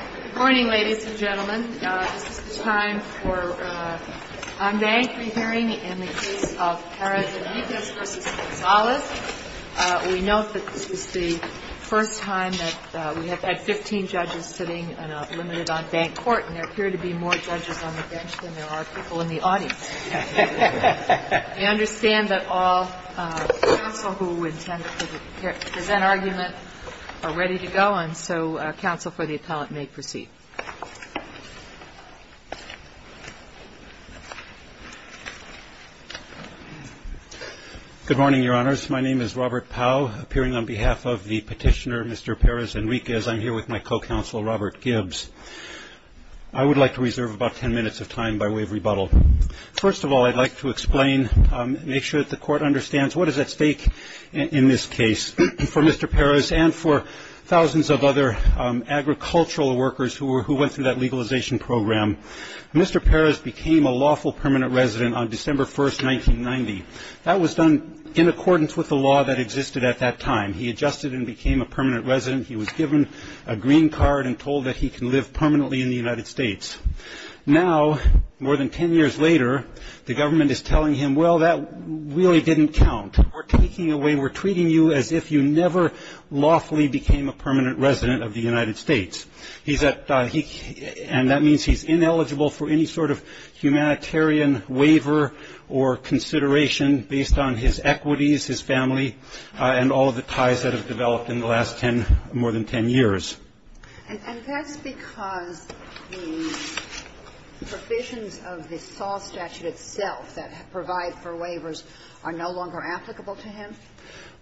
Good morning, ladies and gentlemen. This is the time for an on-bank re-hearing in the case of Perez-Enriquez v. Gonzales. We note that this is the first time that we have had 15 judges sitting in a limited on-bank court, and there appear to be more judges on the bench than there are people in the audience. I understand that all counsel who intend to present argument are ready to go, and so counsel for the appellant may proceed. Good morning, Your Honors. My name is Robert Powell, appearing on behalf of the petitioner, Mr. Perez-Enriquez. I'm here with my co-counsel, Robert Gibbs. I would like to reserve about 10 minutes of time by way of rebuttal. First of all, I'd like to explain, make sure that the court understands what is at stake in this case. For Mr. Perez and for thousands of other agricultural workers who went through that legalization program, Mr. Perez became a lawful permanent resident on December 1, 1990. That was done in accordance with the law that existed at that time. He adjusted and became a permanent resident. He was given a green card and told that he can live permanently in the United States. Now, more than 10 years later, the government is telling him, well, that really didn't count. We're taking away, we're treating you as if you never lawfully became a permanent resident of the United States. And that means he's ineligible for any sort of humanitarian waiver or consideration based on his equities, his family, and all of the ties that have developed in the last 10, more than 10 years. And that's because the provisions of the SAW statute itself that provide for waivers are no longer applicable to him?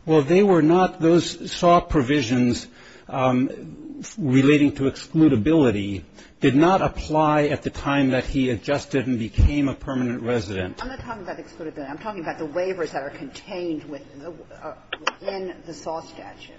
Well, they were not. Those SAW provisions relating to excludability did not apply at the time that he adjusted and became a permanent resident. I'm not talking about excludability. I'm talking about the waivers that are contained within the SAW statute,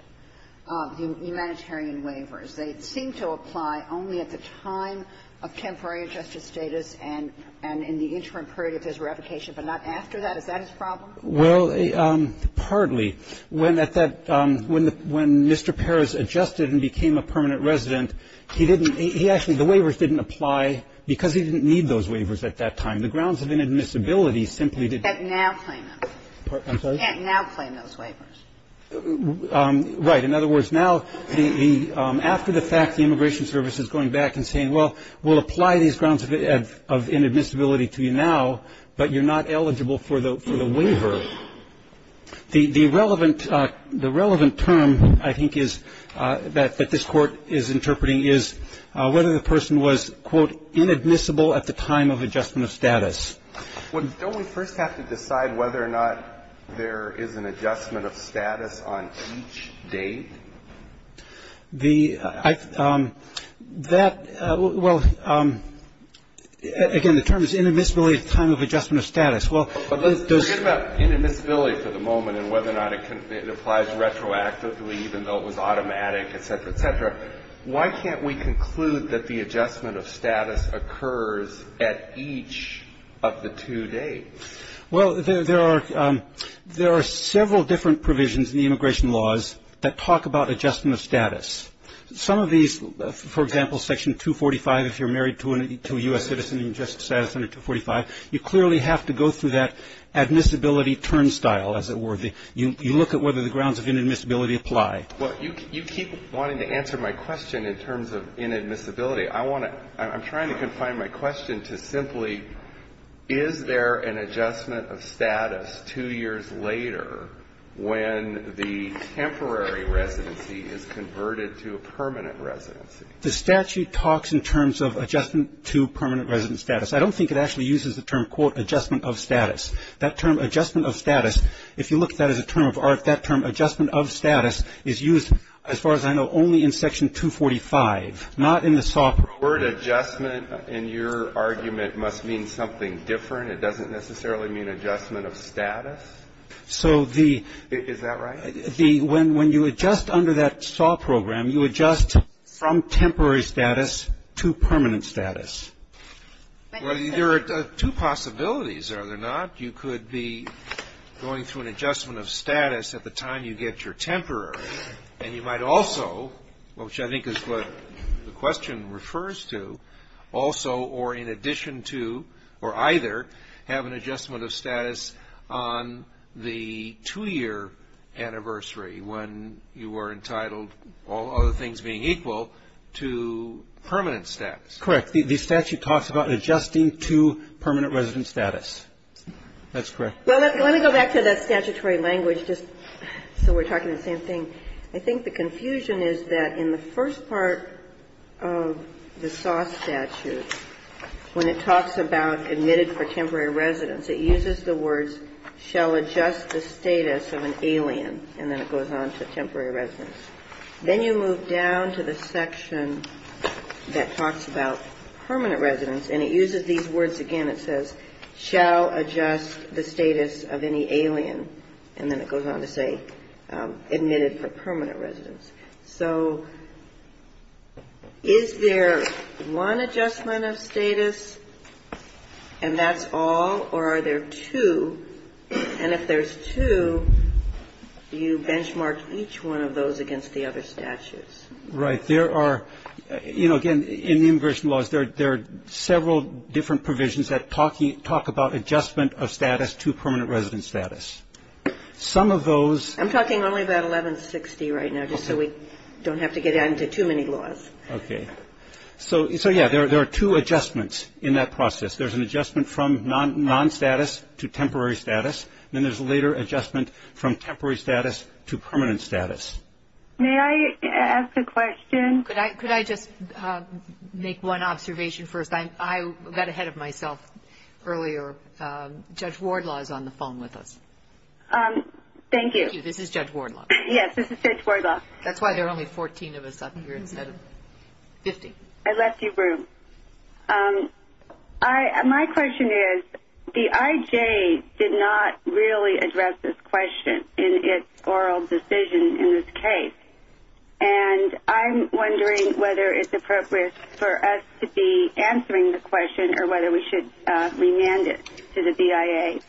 the humanitarian waivers. They seem to apply only at the time of temporary adjusted status and in the interim period of his revocation, but not after that. Is that his problem? Well, partly. When at that – when Mr. Perez adjusted and became a permanent resident, he didn't – he actually – the waivers didn't apply because he didn't need those waivers at that time. The grounds of inadmissibility simply did not – He can't now claim them. I'm sorry? He can't now claim those waivers. Right. In other words, now, after the fact, the Immigration Service is going back and saying, well, we'll apply these grounds of inadmissibility to you now, but you're not eligible for the waiver. The relevant – the relevant term, I think, is – that this Court is interpreting is whether the person was, quote, inadmissible at the time of adjustment of status. Don't we first have to decide whether or not there is an adjustment of status on each date? The – that – well, again, the term is inadmissibility at the time of adjustment of status. Well, those – Forget about inadmissibility for the moment and whether or not it applies retroactively, even though it was automatic, et cetera, et cetera. Why can't we conclude that the adjustment of status occurs at each of the two dates? Well, there are – there are several different provisions in the immigration laws that talk about adjustment of status. Some of these – for example, Section 245, if you're married to a U.S. citizen, Adjustment of Status under 245, you clearly have to go through that admissibility turnstile, as it were. You look at whether the grounds of inadmissibility apply. Well, you keep wanting to answer my question in terms of inadmissibility. I want to – I'm trying to confine my question to simply, is there an adjustment of status two years later when the temporary residency is converted to a permanent residency? The statute talks in terms of adjustment to permanent resident status. I don't think it actually uses the term, quote, adjustment of status. That term, adjustment of status, if you look at that as a term of art, that term, adjustment of status, is used, as far as I know, only in Section 245, not in the SAW program. The word adjustment, in your argument, must mean something different. It doesn't necessarily mean adjustment of status? So the – Is that right? The – when you adjust under that SAW program, you adjust from temporary status to permanent status. Thank you, sir. Well, there are two possibilities, are there not? You could be going through an adjustment of status at the time you get your temporary, and you might also, which I think is what the question refers to, also or in addition to or either have an adjustment of status on the two-year anniversary when you are entitled, all other things being equal, to permanent status. Correct. The statute talks about adjusting to permanent resident status. That's correct. Well, let me go back to that statutory language just so we're talking the same thing. I think the confusion is that in the first part of the SAW statute, when it talks about admitted for temporary residence, it uses the words shall adjust the status of an alien, and then it goes on to temporary residence. Then you move down to the section that talks about permanent residence, and it uses these words again. It says shall adjust the status of any alien, and then it goes on to say admitted for permanent residence. So is there one adjustment of status and that's all, or are there two? And if there's two, you benchmark each one of those against the other statutes. Right. There are, you know, again, in the immigration laws, there are several different provisions that talk about adjustment of status to permanent resident status. Some of those I'm talking only about 1160 right now just so we don't have to get into too many laws. Okay. So, yeah, there are two adjustments in that process. There's an adjustment from non-status to temporary status, and then there's a later adjustment from temporary status to permanent status. May I ask a question? Could I just make one observation first? I got ahead of myself earlier. Judge Wardlaw is on the phone with us. Thank you. This is Judge Wardlaw. Yes, this is Judge Wardlaw. That's why there are only 14 of us up here instead of 50. I left you room. My question is the IJ did not really address this question in its oral decision in this case, and I'm wondering whether it's appropriate for us to be answering the question or whether we should remand it to the BIA.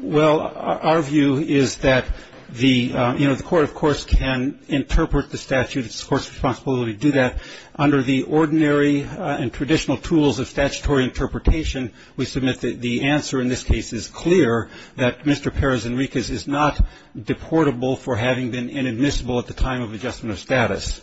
Well, our view is that the court, of course, can interpret the statute. It's the court's responsibility to do that. Under the ordinary and traditional tools of statutory interpretation, we submit that the answer in this case is clear, that Mr. Perez Enriquez is not deportable for having been inadmissible at the time of adjustment of status.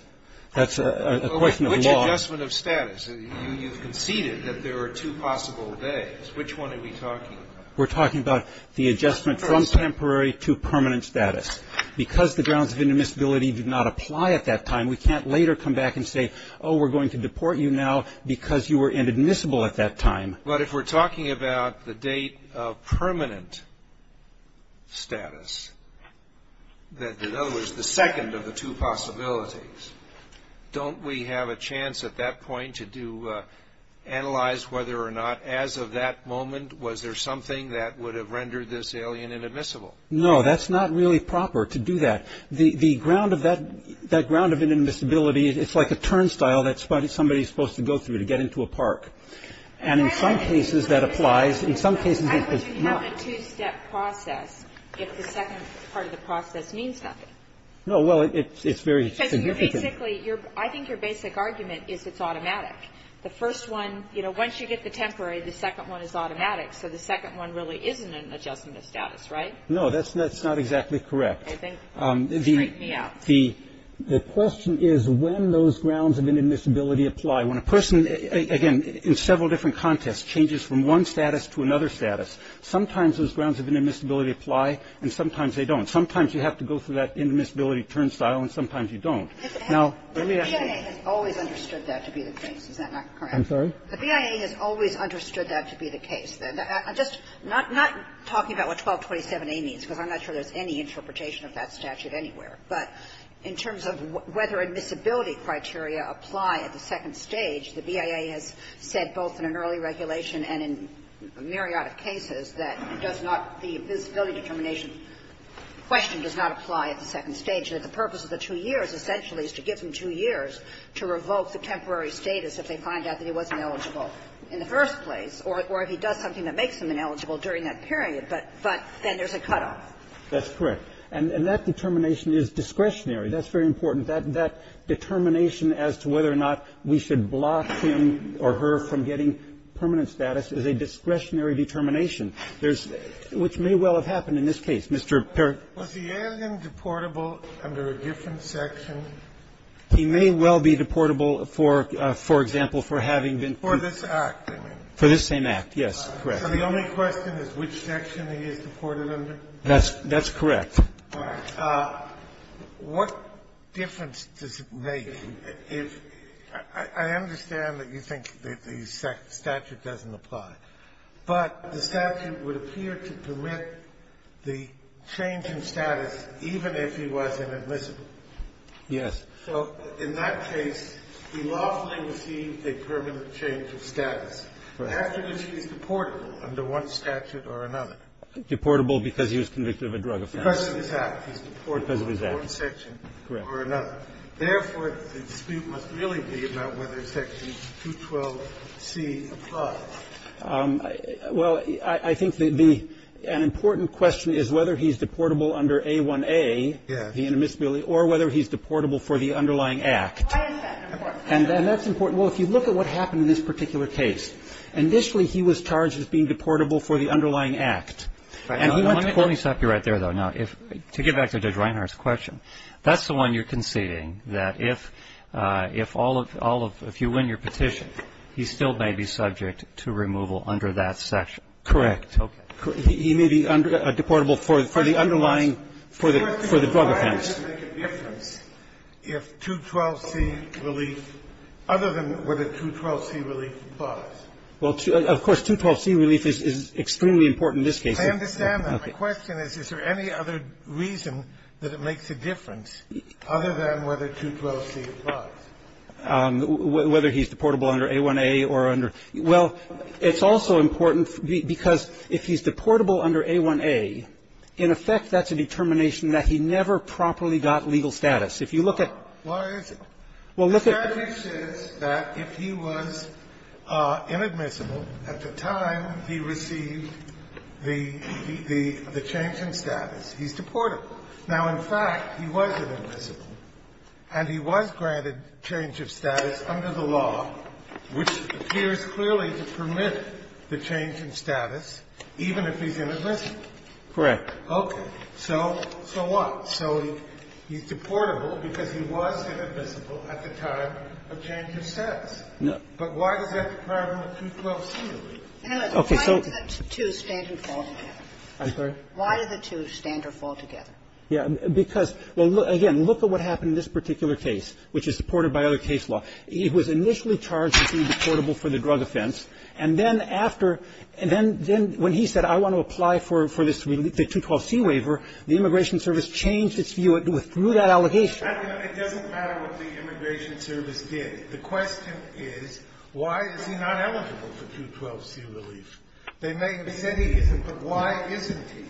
That's a question of law. Which adjustment of status? You've conceded that there are two possible ways. Which one are we talking? We're talking about the adjustment from temporary to permanent status. Because the grounds of inadmissibility do not apply at that time, we can't later come back and say, oh, we're going to deport you now because you were inadmissible at that time. But if we're talking about the date of permanent status, in other words the second of the two possibilities, don't we have a chance at that point to analyze whether or not as of that moment was there something that would have rendered this alien inadmissible? No, that's not really proper to do that. The ground of that ground of inadmissibility, it's like a turnstile that somebody is supposed to go through to get into a park. And in some cases that applies. In some cases it's not. I would have a two-step process if the second part of the process means nothing. No, well, it's very significant. Because you're basically, I think your basic argument is it's automatic. The first one, you know, once you get the temporary, the second one is automatic, so the second one really isn't an adjustment of status, right? No, that's not exactly correct. The question is when those grounds of inadmissibility apply. When a person, again, in several different contexts changes from one status to another status, sometimes those grounds of inadmissibility apply and sometimes they don't. Sometimes you have to go through that inadmissibility turnstile and sometimes you don't. Now, let me ask you. The BIA has always understood that to be the case. Is that not correct? I'm sorry? The BIA has always understood that to be the case. I'm just not talking about what 1227A means, because I'm not sure there's any interpretation of that statute anywhere. But in terms of whether admissibility criteria apply at the second stage, the BIA has said both in an early regulation and in a myriad of cases that it does not be the disability determination question does not apply at the second stage. The purpose of the two years essentially is to give them two years to revoke the temporary status if they find out that he wasn't eligible in the first place. Or if he does something that makes him ineligible during that period, but then there's a cutoff. That's correct. And that determination is discretionary. That's very important. That determination as to whether or not we should block him or her from getting permanent status is a discretionary determination. There's – which may well have happened in this case. Mr. Perry. Was the alien deportable under a different section? He may well be deportable for, for example, for having been – For this act, I mean. For this same act, yes, correct. So the only question is which section he is deported under? That's – that's correct. All right. What difference does it make if – I understand that you think that the statute doesn't apply. But the statute would appear to permit the change in status even if he was inadmissible. Yes. So in that case, he lawfully received a permanent change of status. After this, he's deportable under one statute or another. Deportable because he was convicted of a drug offense. Because of his act. He's deportable under one section or another. Therefore, the dispute must really be about whether Section 212C applies. Well, I think the – an important question is whether he's deportable under A1A, the inadmissibility, or whether he's deportable for the underlying act. Why is that important? And that's important. Well, if you look at what happened in this particular case, initially he was charged as being deportable for the underlying act. And he went to – Let me stop you right there, though, now, if – to get back to Judge Reinhart's question. That's the one you're conceding, that if all of – all of – if you win your petition, he still may be subject to removal under that section? Correct. Okay. He may be under – deportable for the underlying – for the drug offense. But does it make a difference if 212C relief, other than whether 212C relief applies? Well, of course, 212C relief is extremely important in this case. I understand that. My question is, is there any other reason that it makes a difference other than whether 212C applies? Whether he's deportable under A1A or under – well, it's also important because if he's deportable under A1A, in effect, that's a determination that he never properly got legal status. If you look at – So why is it? Well, look at – The strategy says that if he was inadmissible at the time he received the – the change in status, he's deportable. Now, in fact, he was inadmissible, and he was granted change of status under the law, which appears clearly to permit the change in status, even if he's inadmissible. Correct. Okay. So – so what? So he's deportable because he was inadmissible at the time of change of status. No. But why does that require a 212C relief? Okay. So – Why do the two stand and fall together? I'm sorry? Why do the two stand or fall together? Yeah. Because – well, again, look at what happened in this particular case, which is supported by other case law. He was initially charged as being deportable for the drug offense, and then after – and then – then when he said, I want to apply for this relief, the 212C waiver, the Immigration Service changed its view through that allegation. I mean, it doesn't matter what the Immigration Service did. The question is, why is he not eligible for 212C relief? They may have said he isn't, but why isn't he?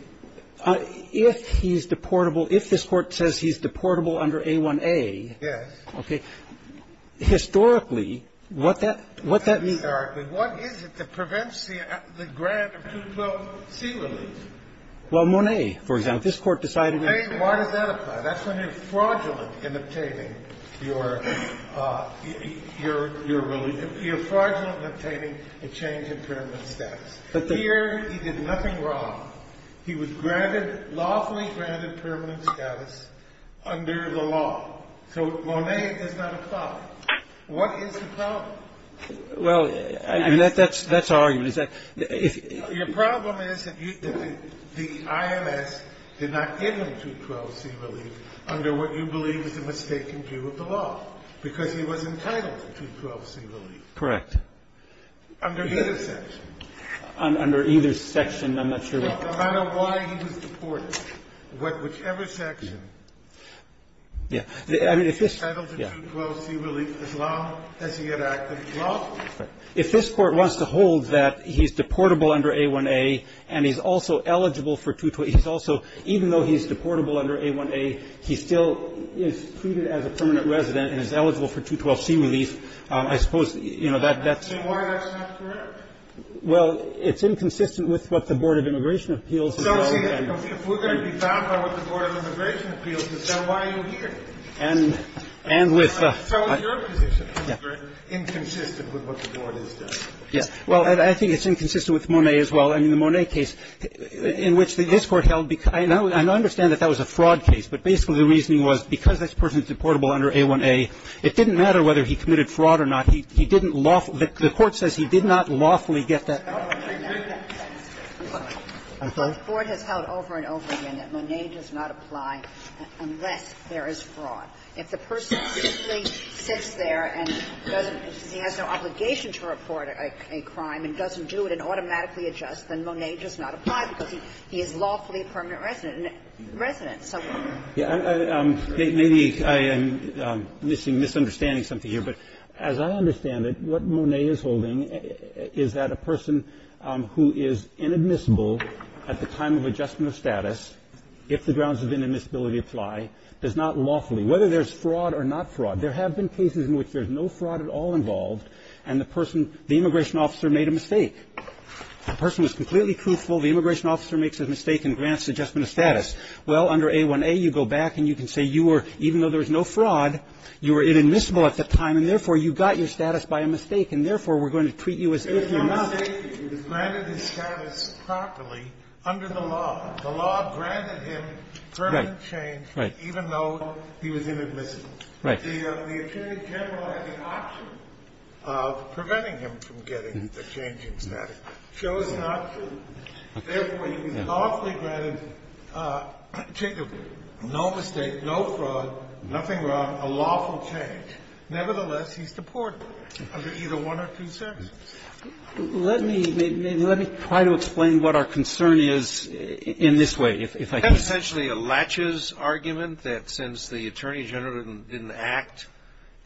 If he's deportable – if this Court says he's deportable under A1A. Yes. Okay. Historically, what that – what that means – Historically, what is it that prevents the grant of 212C relief? Well, Monet, for example. This Court decided that – Monet, why does that apply? That's when you're fraudulent in obtaining your – your relief. You're fraudulent in obtaining a change in permanent status. Here, he did nothing wrong. He was granted – lawfully granted permanent status under the law. So Monet does not apply. What is the problem? Well, that's our argument, is that – Your problem is that the IMS did not give him 212C relief under what you believe is a mistaken view of the law, because he was entitled to 212C relief. Correct. Under either section. Under either section. I'm not sure what – No, no matter why he was deported, what – whichever section. Yeah. I mean, if this – He was entitled to 212C relief as long as he had acted lawfully. If this Court wants to hold that he's deportable under A1A and he's also eligible for 212 – he's also – even though he's deportable under A1A, he still is treated as a permanent resident and is eligible for 212C relief, I suppose, you know, that – that's – And why that's not correct? Well, it's inconsistent with what the Board of Immigration Appeals has said. So, see, if we're going to be bound by what the Board of Immigration Appeals has said, why are you here? And – and with – So your position is very inconsistent with what the Board has said. Yes. Well, I think it's inconsistent with Monet as well. I mean, the Monet case in which this Court held – and I understand that that was a fraud case, but basically the reasoning was because this person is deportable under A1A, it didn't matter whether he committed fraud or not. He didn't lawfully – the Court says he did not lawfully get that – No, he did not get that. I'm sorry. I'm sorry? The Court has held over and over again that Monet does not apply unless there is fraud. If the person simply sits there and doesn't – he has no obligation to report a crime and doesn't do it and automatically adjusts, then Monet does not apply because he – he is lawfully a permanent resident – resident, so on. Yeah. Maybe I am missing – misunderstanding something here, but as I understand it, what Monet is holding is that a person who is inadmissible at the time of adjustment of status, if the grounds of inadmissibility apply, does not lawfully – whether there's fraud or not fraud, there have been cases in which there's no fraud at all involved and the person – the immigration officer made a mistake. The person was completely truthful. The immigration officer makes a mistake and grants adjustment of status. Well, under A1A, you go back and you can say you were – even though there was no fraud, you were inadmissible at the time and, therefore, you got your status by a mistake and, therefore, we're going to treat you as if you're not. No mistake, he was granted his status properly under the law. The law granted him permanent change even though he was inadmissible. Right. The Attorney General had the option of preventing him from getting the changing status, chose not to. Therefore, he was lawfully granted – no mistake, no fraud, nothing wrong, a lawful change. Nevertheless, he's deportable under either one or two services. Let me try to explain what our concern is in this way, if I can. That's essentially a latches argument that since the Attorney General didn't act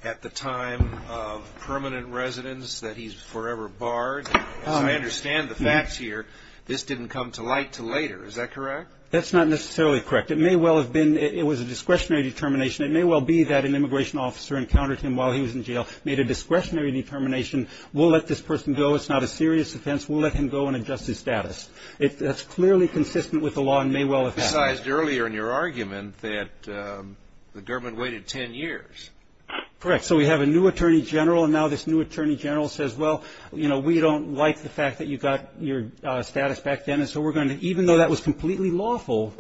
at the time of permanent residence that he's forever barred. As I understand the facts here, this didn't come to light until later. Is that correct? That's not necessarily correct. It may well have been – it was a discretionary determination. It may well be that an immigration officer encountered him while he was in jail, made a discretionary determination. We'll let this person go. It's not a serious offense. We'll let him go and adjust his status. That's clearly consistent with the law and may well have happened. You resized earlier in your argument that the government waited ten years. Correct. So we have a new Attorney General and now this new Attorney General says, well, you know, we don't like the fact that you got your status back then and so we're going to – even though that was completely lawful,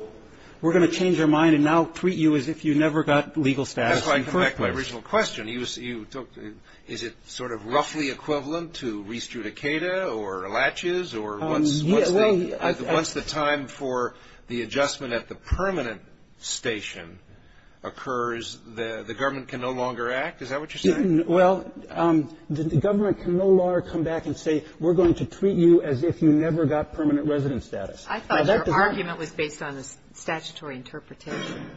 we're going to change our mind and now treat you as if you never got legal status in the first place. That's why I come back to my original question. You – is it sort of roughly equivalent to re-strudicata or latches or once the time for the adjustment at the permanent station occurs, the government can no longer act? Is that what you're saying? Well, the government can no longer come back and say we're going to treat you as if you never got permanent resident status. I thought your argument was based on a statutory interpretation.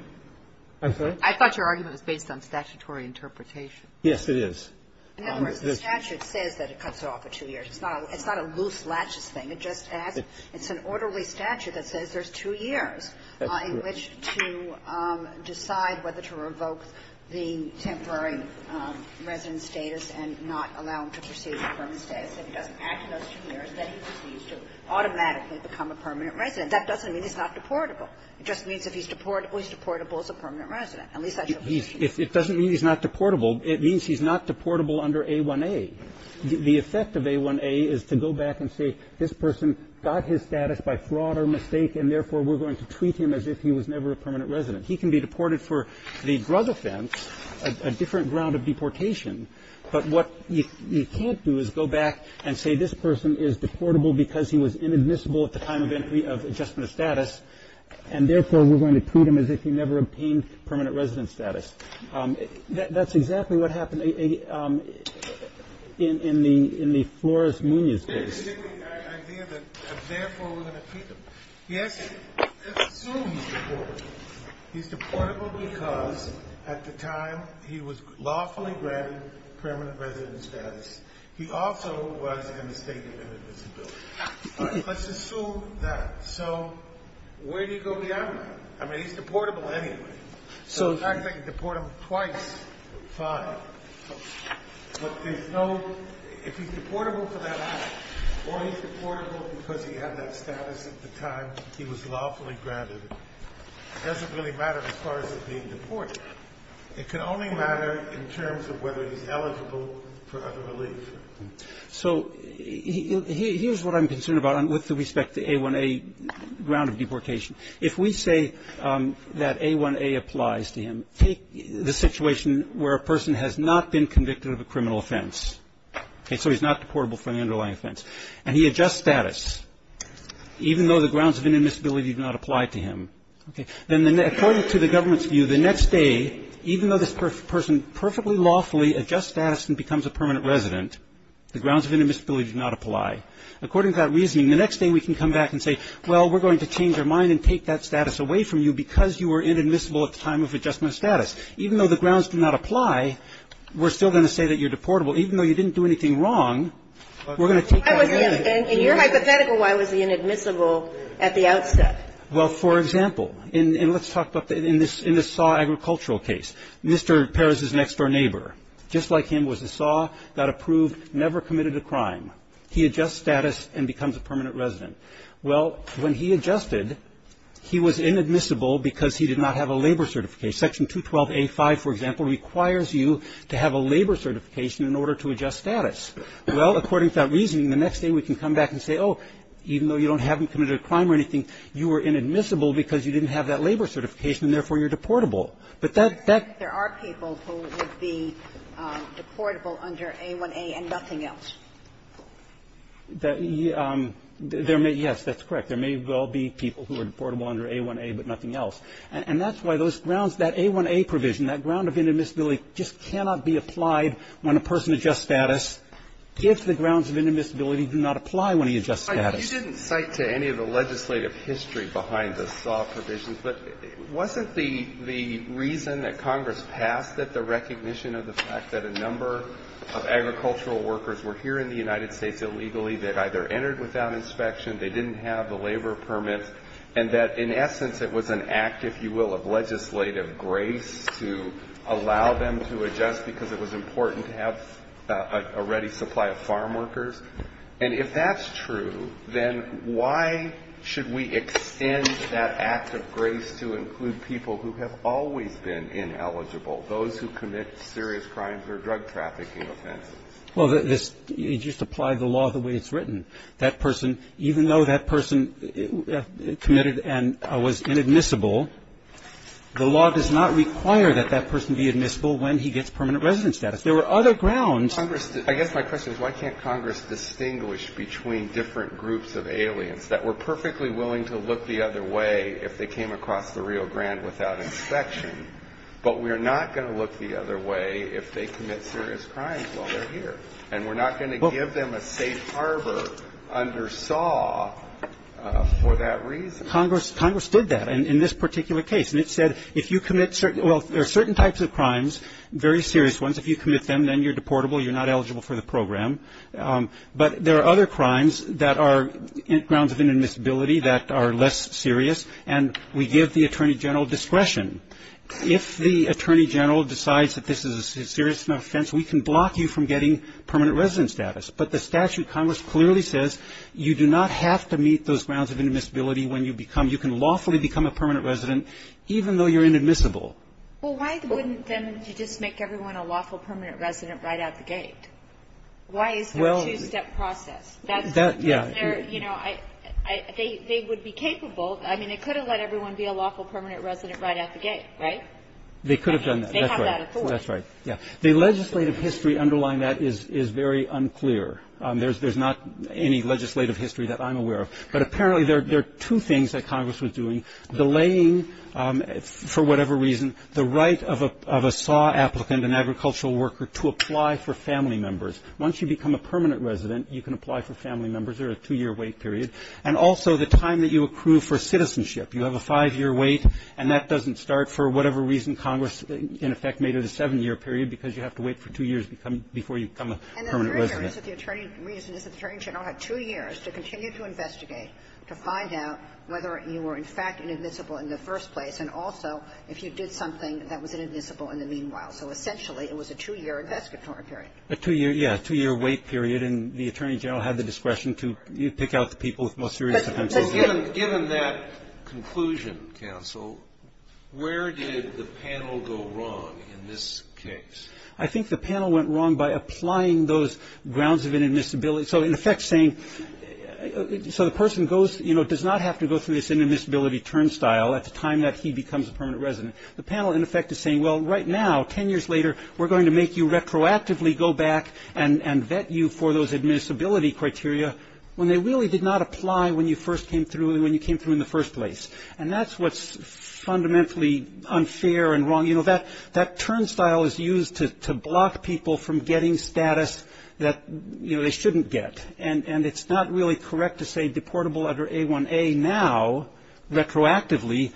I'm sorry? I thought your argument was based on statutory interpretation. Yes, it is. In other words, the statute says that it cuts off a two-year. It's not a loose latches thing. It just adds – it's an orderly statute that says there's two years in which to decide whether to revoke the temporary resident status and not allow him to proceed with permanent status. If he doesn't act in those two years, then he proceeds to automatically become a permanent resident. That doesn't mean he's not deportable. It just means if he's deportable, he's deportable as a permanent resident. At least that's your position. It doesn't mean he's not deportable. It means he's not deportable under A1A. The effect of A1A is to go back and say this person got his status by fraud or mistake, and therefore we're going to treat him as if he was never a permanent resident. He can be deported for the drug offense, a different ground of deportation. But what you can't do is go back and say this person is deportable because he was inadmissible at the time of entry of adjustment of status, and therefore we're going to treat him as if he never obtained permanent resident status. That's exactly what happened in the Flores-Munoz case. He had the idea that therefore we're going to treat him. Yes, let's assume he's deportable. He's deportable because at the time he was lawfully granted permanent resident status. He also was a mistake of inadmissibility. Let's assume that. So where do you go beyond that? I mean, he's deportable anyway. So the fact that you deport him twice, fine. But there's no – if he's deportable for that matter, or he's deportable because he had that status at the time he was lawfully granted, it doesn't really matter as far as being deportable. It can only matter in terms of whether he's eligible for other relief. So here's what I'm concerned about with respect to A1A ground of deportation. If we say that A1A applies to him, take the situation where a person has not been convicted of a criminal offense, okay, so he's not deportable from the underlying offense, and he adjusts status, even though the grounds of inadmissibility do not apply to him, then according to the government's view, the next day, even though this person perfectly lawfully adjusts status and becomes a permanent resident, the grounds of inadmissibility do not apply. According to that reasoning, the next day we can come back and say, well, we're going to change our mind and take that status away from you because you were inadmissible at the time of adjustment of status. Even though the grounds do not apply, we're still going to say that you're deportable. Even though you didn't do anything wrong, we're going to take that away. And in your hypothetical, why was he inadmissible at the outset? Well, for example, and let's talk about – in this Saw Agricultural case, Mr. Perez's next-door neighbor, just like him, was a Saw, got approved, never committed a crime. He adjusts status and becomes a permanent resident. Well, when he adjusted, he was inadmissible because he did not have a labor certification. Section 212a5, for example, requires you to have a labor certification in order to adjust status. Well, according to that reasoning, the next day we can come back and say, oh, even though you don't have him committed a crime or anything, you were inadmissible because you didn't have that labor certification, and therefore you're deportable. But that – There are people who would be deportable under A1A and nothing else. There may – yes, that's correct. There may well be people who are deportable under A1A but nothing else. And that's why those grounds – that A1A provision, that ground of inadmissibility just cannot be applied when a person adjusts status if the grounds of inadmissibility do not apply when he adjusts status. You didn't cite to any of the legislative history behind the Saw provisions. But wasn't the reason that Congress passed it the recognition of the fact that a number of agricultural workers were here in the United States illegally that either entered without inspection, they didn't have the labor permit, and that, in essence, it was an act, if you will, of legislative grace to allow them to adjust because it was important to have a ready supply of farm workers? And if that's true, then why should we extend that act of grace to include people who have always been ineligible, those who commit serious crimes or drug trafficking offenses? Well, this – it just applied the law the way it's written. That person – even though that person committed and was inadmissible, the law does not require that that person be admissible when he gets permanent resident status. There were other grounds. But Congress – I guess my question is why can't Congress distinguish between different groups of aliens that were perfectly willing to look the other way if they came across the Rio Grande without inspection, but we're not going to look the other way if they commit serious crimes while they're here? And we're not going to give them a safe harbor under Saw for that reason. Congress did that in this particular case. And it said if you commit – well, there are certain types of crimes, very serious ones. If you commit them, then you're deportable. You're not eligible for the program. But there are other crimes that are grounds of inadmissibility that are less serious. And we give the Attorney General discretion. If the Attorney General decides that this is a serious offense, we can block you from getting permanent resident status. But the statute, Congress clearly says you do not have to meet those grounds of inadmissibility when you become – you can lawfully become a permanent resident even though you're inadmissible. Well, why wouldn't then you just make everyone a lawful permanent resident right out the gate? Why is there a two-step process? That's – Yeah. You know, they would be capable – I mean, they could have let everyone be a lawful permanent resident right out the gate, right? They could have done that. That's right. They have that authority. That's right. Yeah. The legislative history underlying that is very unclear. There's not any legislative history that I'm aware of. But apparently there are two things that Congress was doing, delaying for whatever reason the right of a SAW applicant, an agricultural worker, to apply for family members. Once you become a permanent resident, you can apply for family members. They're a two-year wait period. And also the time that you accrue for citizenship. You have a five-year wait, and that doesn't start for whatever reason Congress, in effect, made it a seven-year period because you have to wait for two years before you become a permanent resident. And the reason is that the Attorney General had two years to continue to investigate to find out whether you were, in fact, inadmissible in the first place. And also if you did something that was inadmissible in the meanwhile. So essentially it was a two-year investigatory period. A two-year, yeah, a two-year wait period. And the Attorney General had the discretion to pick out the people with most serious offenses. But given that conclusion, counsel, where did the panel go wrong in this case? I think the panel went wrong by applying those grounds of inadmissibility. So, in effect, saying so the person goes, you know, does not have to go through this inadmissibility turnstile at the time that he becomes a permanent resident. The panel, in effect, is saying, well, right now, 10 years later, we're going to make you retroactively go back and vet you for those admissibility criteria when they really did not apply when you first came through and when you came through in the first place. And that's what's fundamentally unfair and wrong. You know, that turnstile is used to block people from getting status that, you know, they shouldn't get. And it's not really correct to say deportable under A1A now retroactively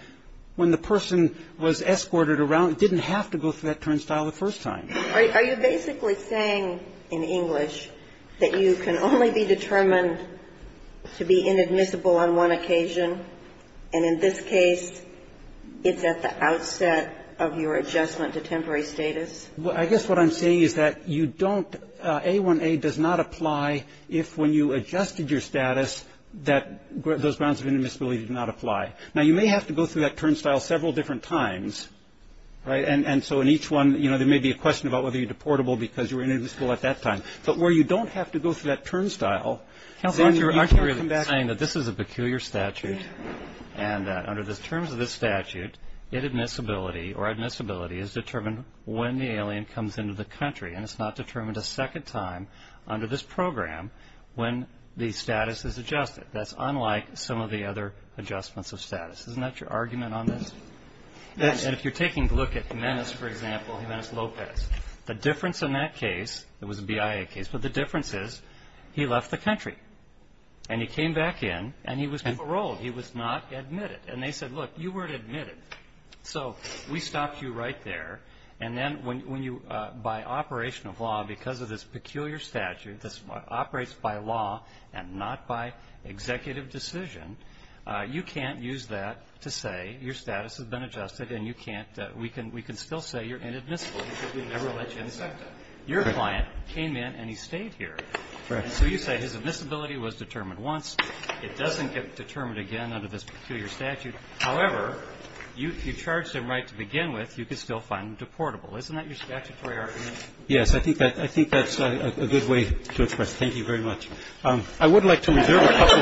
when the person was escorted around, didn't have to go through that turnstile the first time. Are you basically saying in English that you can only be determined to be inadmissible on one occasion? And in this case, it's at the outset of your adjustment to temporary status? Well, I guess what I'm saying is that you don't, A1A does not apply if when you adjusted your status that those grounds of inadmissibility did not apply. Now, you may have to go through that turnstile several different times, right? And so in each one, you know, there may be a question about whether you're deportable because you were inadmissible at that time. But where you don't have to go through that turnstile, then you can come back. Aren't you really saying that this is a peculiar statute and that under the terms of this statute, inadmissibility or admissibility is determined when the alien comes into the country and it's not determined a second time under this program when the status is adjusted? That's unlike some of the other adjustments of status. Isn't that your argument on this? Yes. And if you're taking a look at Jimenez, for example, Jimenez Lopez, the difference in that case, it was a BIA case, but the difference is he left the country. And he came back in and he was paroled. He was not admitted. And they said, look, you weren't admitted. So we stopped you right there. And then when you, by operation of law, because of this peculiar statute that operates by law and not by executive decision, you can't use that to say your status has been adjusted and you can't, we can still say you're inadmissible because we never let you inspect it. Your client came in and he stayed here. So you say his admissibility was determined once. It doesn't get determined again under this peculiar statute. However, you charged him right to begin with. You can still find him deportable. Isn't that your statutory argument? Yes. I think that's a good way to express it. Thank you very much. I would like to reserve a couple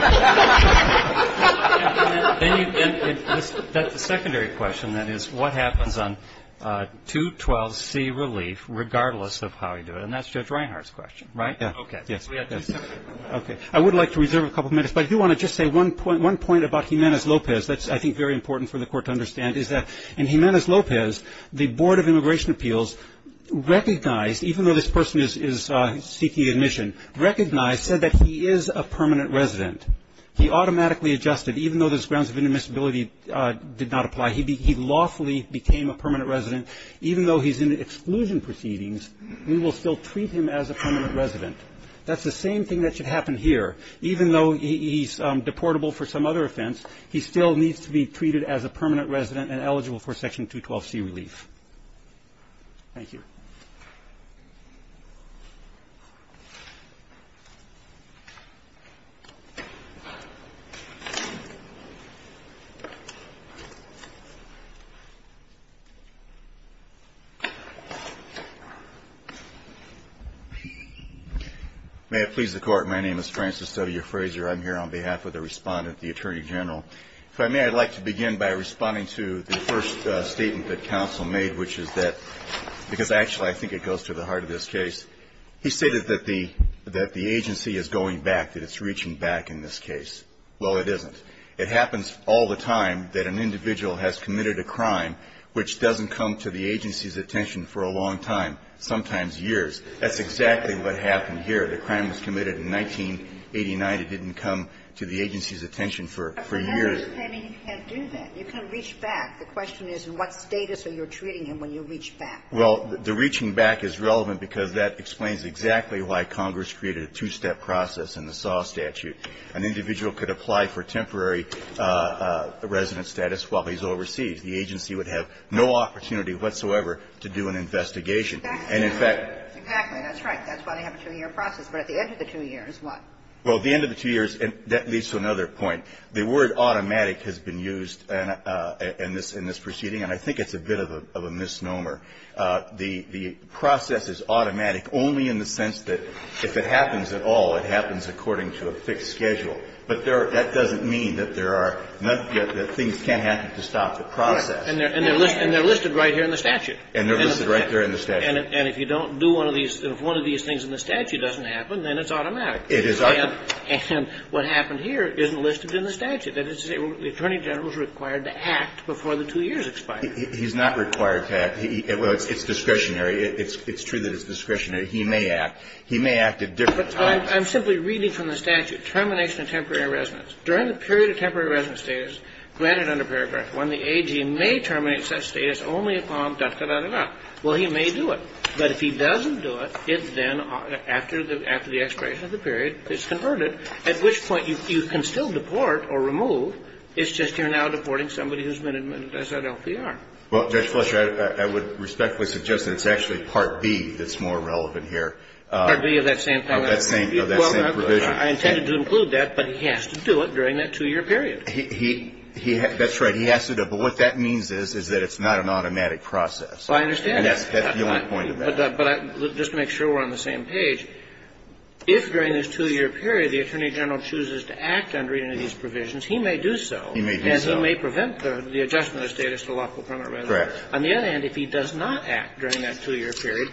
of minutes. The secondary question, that is, what happens on 212C relief regardless of how you do it? And that's Judge Reinhart's question, right? Yes. Okay. I would like to reserve a couple of minutes. But I do want to just say one point about Jimenez-Lopez that's, I think, very important for the Court to understand is that in Jimenez-Lopez, the Board of Immigration Appeals recognized, even though this person is seeking admission, recognized, said that he is a permanent resident. He automatically adjusted. Even though those grounds of inadmissibility did not apply, he lawfully became a permanent resident. Even though he's in exclusion proceedings, we will still treat him as a permanent resident. That's the same thing that should happen here. Even though he's deportable for some other offense, he still needs to be treated as a permanent resident and eligible for Section 212C relief. Thank you. May it please the Court. My name is Francis W. Fraser. I'm here on behalf of the Respondent, the Attorney General. If I may, I'd like to begin by responding to the first statement that Counsel made, which is that, because actually I think it goes to the heart of this case. He stated that the agency is going back, that it's reaching back in this case. Well, it isn't. It happens all the time that an individual has committed a crime which doesn't come to the agency's attention for a long time, sometimes years. That's exactly what happened here. The crime was committed in 1989. It didn't come to the agency's attention for years. But for that understanding, you can't do that. You can't reach back. The question is, in what status are you treating him when you reach back? Well, the reaching back is relevant because that explains exactly why Congress created a two-step process in the SAW statute. An individual could apply for temporary resident status while he's overseas. The agency would have no opportunity whatsoever to do an investigation. Exactly. Exactly. That's right. That's why they have a two-year process. But at the end of the two years, what? Well, at the end of the two years, that leads to another point. The word automatic has been used in this proceeding, and I think it's a bit of a misnomer. The process is automatic only in the sense that if it happens at all, it happens according to a fixed schedule. But that doesn't mean that there are no things can't happen to stop the process. And they're listed right here in the statute. And they're listed right there in the statute. And if you don't do one of these, if one of these things in the statute doesn't happen, then it's automatic. It is automatic. And what happened here isn't listed in the statute. That is to say, the Attorney General is required to act before the two years expire. He's not required to act. Well, it's discretionary. It's true that it's discretionary. He may act. He may act at different times. I'm simply reading from the statute. Termination of temporary residence. During the period of temporary residence status granted under paragraph 1, the AG may terminate such status only upon ducted out of law. Well, he may do it. But if he doesn't do it, it's then after the expiration of the period, it's converted, at which point you can still deport or remove. It's just you're now deporting somebody who's been admitted as an LPR. Well, Judge Fletcher, I would respectfully suggest that it's actually Part B that's more relevant here. Part B of that same provision. I intended to include that, but he has to do it during that two-year period. That's right. He has to do it. But what that means is that it's not an automatic process. Well, I understand that. And that's the only point of that. But just to make sure we're on the same page, if during this two-year period the Attorney General chooses to act under any of these provisions, he may do so. He may do so. And he may prevent the adjustment of status to lawful permanent residence. Correct. On the other hand, if he does not act during that two-year period,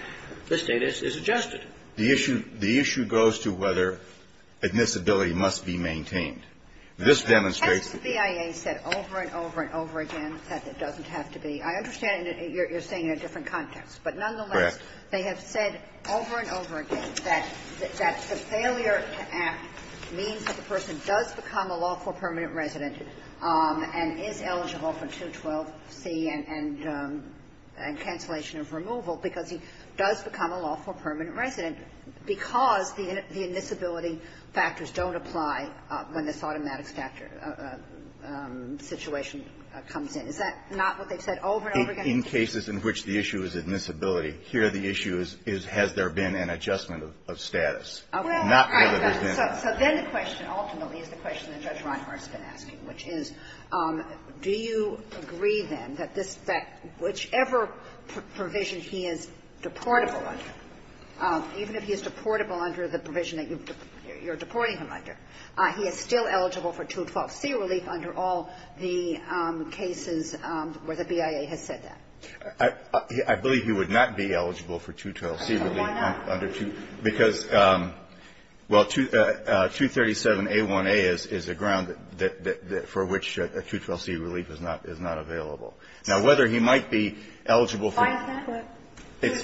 the status is adjusted. The issue goes to whether admissibility must be maintained. This demonstrates that. That's what the BIA said over and over and over again that it doesn't have to be. I understand you're saying in a different context. Correct. But nonetheless, they have said over and over again that the failure to act means that the person does become a lawful permanent resident and is eligible for 212C and cancellation of removal because he does become a lawful permanent resident because the admissibility factors don't apply when this automatic situation comes in. Is that not what they've said over and over again? In cases in which the issue is admissibility, here the issue is, has there been an adjustment of status? Well, I understand. Not whether there's been. So then the question ultimately is the question that Judge Reinhart's been asking, which is, do you agree, then, that whichever provision he is deportable under, even if he is deportable under the provision that you're deporting him under, he is still eligible for 212C relief under all the cases where the BIA has said that? I believe he would not be eligible for 212C relief. Why not? Because, well, 237A1A is a ground for which a 212C relief is not available. Now, whether he might be eligible for... Why is that? Would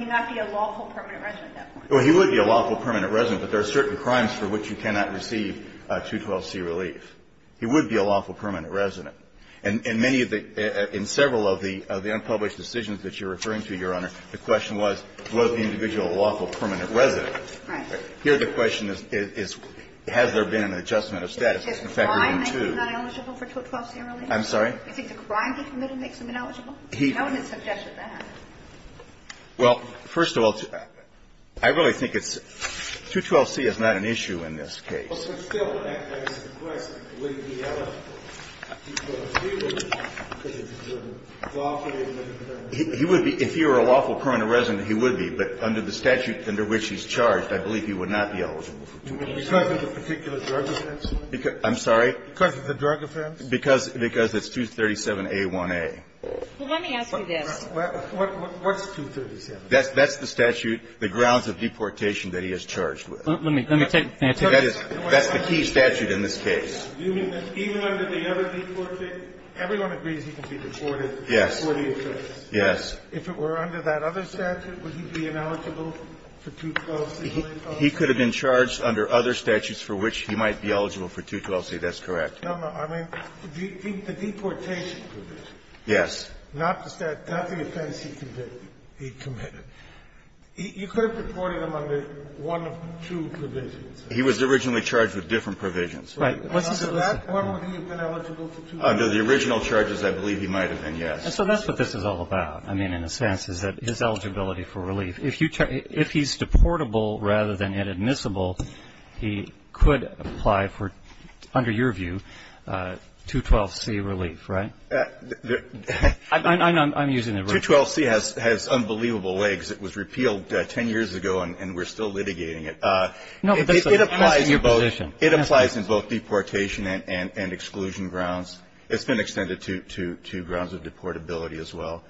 he not be a lawful permanent resident at that point? Well, he would be a lawful permanent resident, but there are certain crimes for which you cannot receive 212C relief. He would be a lawful permanent resident. And many of the – in several of the unpublished decisions that you're referring to, Your Honor, the question was, was the individual a lawful permanent resident? Right. Here the question is, has there been an adjustment of status since February 2? Does the crime make him not eligible for 212C relief? I'm sorry? Do you think the crime he committed makes him ineligible? No one has suggested that. Well, first of all, I really think it's – 212C is not an issue in this case. But still, I guess the question, would he be eligible for 212C relief because it's a lawful... He would be. If he were a lawful permanent resident, he would be. But under the statute under which he's charged, I believe he would not be eligible for 212C. Because of the particular drug offense? I'm sorry? Because of the drug offense? Because it's 237A1A. Well, let me ask you this. What's 237? That's the statute, the grounds of deportation that he is charged with. Let me take my turn. That's the key statute in this case. You mean that even under the other deportation, everyone agrees he can be deported for the offense? Yes. Yes. If it were under that other statute, would he be ineligible for 212C relief? He could have been charged under other statutes for which he might be eligible for 212C. That's correct. No, no. I mean, the deportation provision. Yes. Not the offense he committed. He could have deported him under one of two provisions. He was originally charged with different provisions. Right. Under that, would he have been eligible for 212C? Under the original charges, I believe he might have been, yes. And so that's what this is all about, I mean, in a sense, is that his eligibility for relief. If he's deportable rather than inadmissible, he could apply for, under your view, 212C relief, right? I'm using the original. 212C has unbelievable legs. It was repealed 10 years ago, and we're still litigating it. No, but that's your position. It applies in both deportation and exclusion grounds. It's been extended to grounds of deportability as well.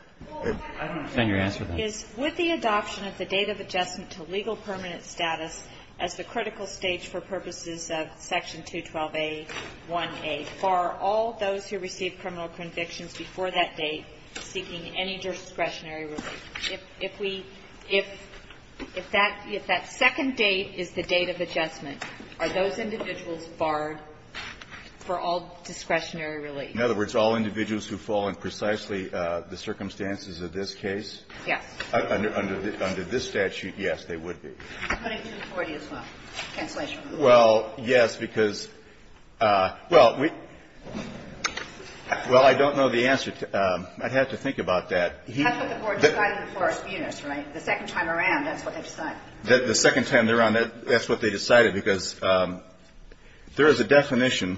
I don't understand your answer to that. Would the adoption of the date of adjustment to legal permanent status as the critical stage for purposes of Section 212A1A bar all those who receive criminal convictions before that date seeking any discretionary relief? If we – if that second date is the date of adjustment, are those individuals barred for all discretionary relief? In other words, all individuals who fall in precisely the circumstances of this case? Yes. Under this statute, yes, they would be. I'm putting 240 as well. Cancellation. Well, yes, because – well, we – well, I don't know the answer. I'd have to think about that. That's what the court decided before a spewness, right? The second time around, that's what they decided. The second time around, that's what they decided, because there is a definition.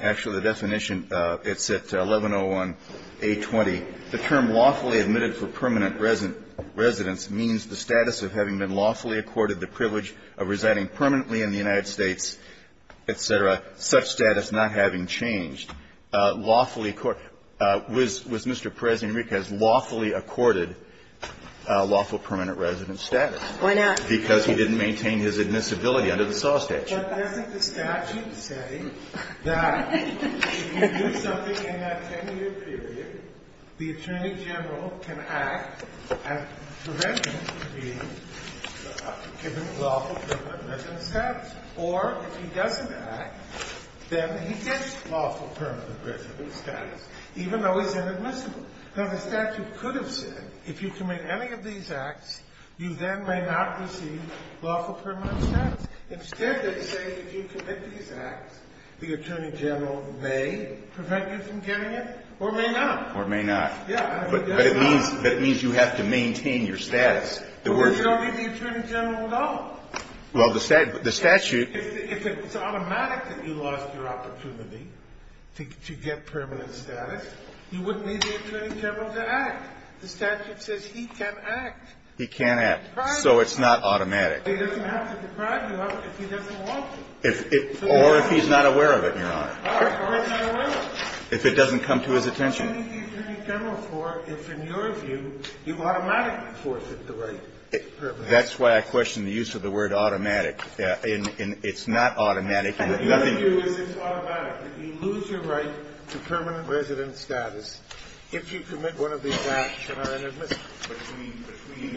Actually, the definition, it's at 1101A20. The term lawfully admitted for permanent residence means the status of having been lawfully accorded the privilege of residing permanently in the United States, et cetera, such status not having changed. Lawfully – was Mr. Perez-Enriquez lawfully accorded lawful permanent residence status? Why not? Because he didn't maintain his admissibility under the Saw statute. But doesn't the statute say that if you do something in that 10-year period, the attorney general can act and prevent you from being given lawful permanent residence status? Or if he doesn't act, then he gets lawful permanent residence status, even though he's inadmissible. Now, the statute could have said, if you commit any of these acts, you then may not receive lawful permanent status. Instead, they say, if you commit these acts, the attorney general may prevent you from getting it, or may not. Or may not. Yeah. But it means you have to maintain your status. But we don't need the attorney general at all. Well, the statute – If it's automatic that you lost your opportunity to get permanent status, you wouldn't need the attorney general to act. The statute says he can act. He can act. So it's not automatic. But he doesn't have to deprive you of it if he doesn't want to. Or if he's not aware of it, Your Honor. Or if he's not aware of it. If it doesn't come to his attention. So what do you need the attorney general for if, in your view, you automatically force him to write permanent status? That's why I question the use of the word automatic. It's not automatic. In your view, it's automatic. If you lose your right to permanent residence status, if you commit one of these acts and are inadmissible between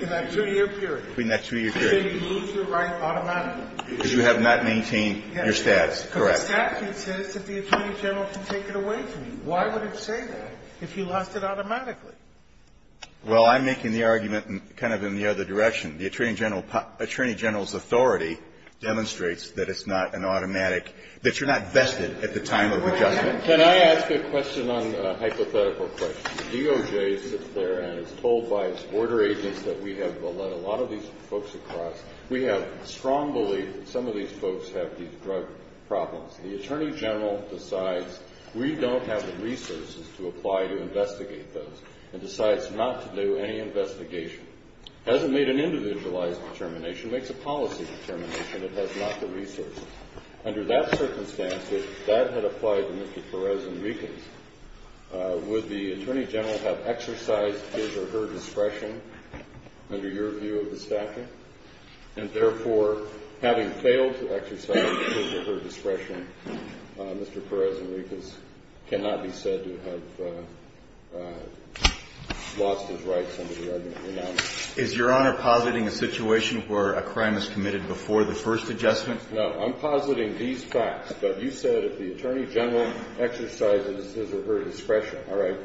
that 2-year period, Do they lose your right automatically? Because you have not maintained your status. Correct. But the statute says that the attorney general can take it away from you. Why would it say that if you lost it automatically? Well, I'm making the argument kind of in the other direction. The attorney general's authority demonstrates that it's not an automatic – that you're not vested at the time of adjustment. Can I ask a question on a hypothetical question? DOJ sits there and is told by its border agents that we have led a lot of these folks across. We have strong belief that some of these folks have these drug problems. The attorney general decides we don't have the resources to apply to investigate those and decides not to do any investigation. Hasn't made an individualized determination. Makes a policy determination. It has not the resources. Under that circumstance, if that had applied to Mr. Perez and Reekins, would the attorney general have exercised his or her discretion under your view of the statute? And therefore, having failed to exercise his or her discretion, Mr. Perez and Reekins cannot be said to have lost his rights under the argument we now make. Is Your Honor positing a situation where a crime is committed before the first adjustment? No. I'm positing these facts. You said if the attorney general exercises his or her discretion. All right.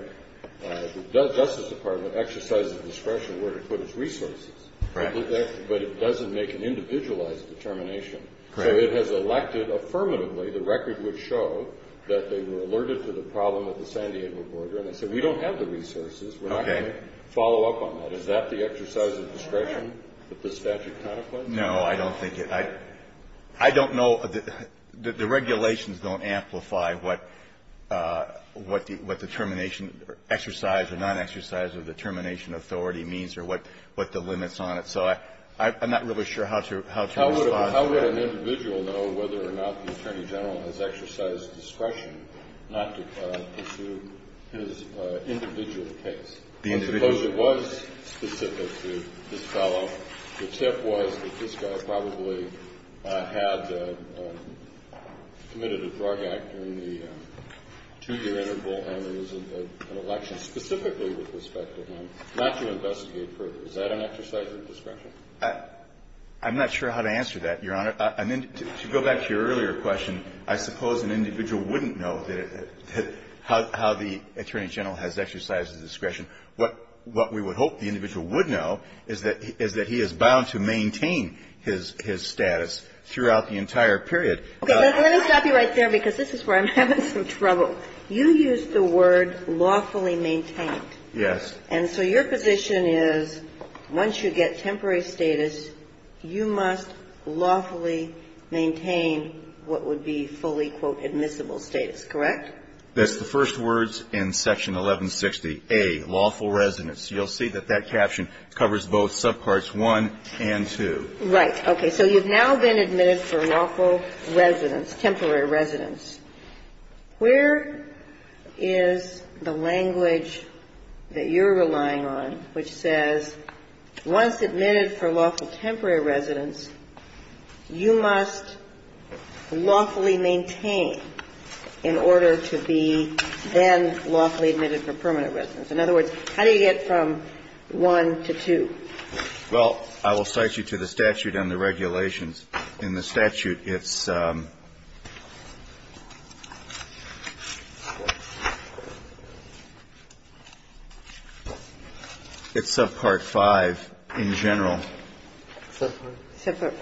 The Justice Department exercises discretion where to put its resources. Correct. But it doesn't make an individualized determination. Correct. So it has elected affirmatively the record would show that they were alerted to the problem at the San Diego border. And they said we don't have the resources. Okay. We're not going to follow up on that. Is that the exercise of discretion that the statute contemplates? No, I don't think it. I don't know. The regulations don't amplify what determination exercise or non-exercise or determination authority means or what the limits on it. So I'm not really sure how to respond to that. How would an individual know whether or not the attorney general has exercised discretion not to pursue his individual case? The individual case. I suppose it was specific to this fellow. The tip was that this guy probably had committed a drug act during the two-year interval and it was an election specifically with respect to him not to investigate further. Is that an exercise of discretion? I'm not sure how to answer that, Your Honor. To go back to your earlier question, I suppose an individual wouldn't know how the attorney general has exercised his discretion. What we would hope the individual would know is that he is bound to maintain his status throughout the entire period. Let me stop you right there because this is where I'm having some trouble. You used the word lawfully maintained. Yes. And so your position is once you get temporary status, you must lawfully maintain what would be fully, quote, admissible status, correct? That's the first words in Section 1160A, lawful residence. You'll see that that caption covers both subparts 1 and 2. Right. Okay. So you've now been admitted for lawful residence, temporary residence. Where is the language that you're relying on which says once admitted for lawful residence, you are required to be then lawfully admitted for permanent residence? In other words, how do you get from 1 to 2? Well, I will cite you to the statute and the regulations. In the statute, it's subpart 5 in general. Subpart 5?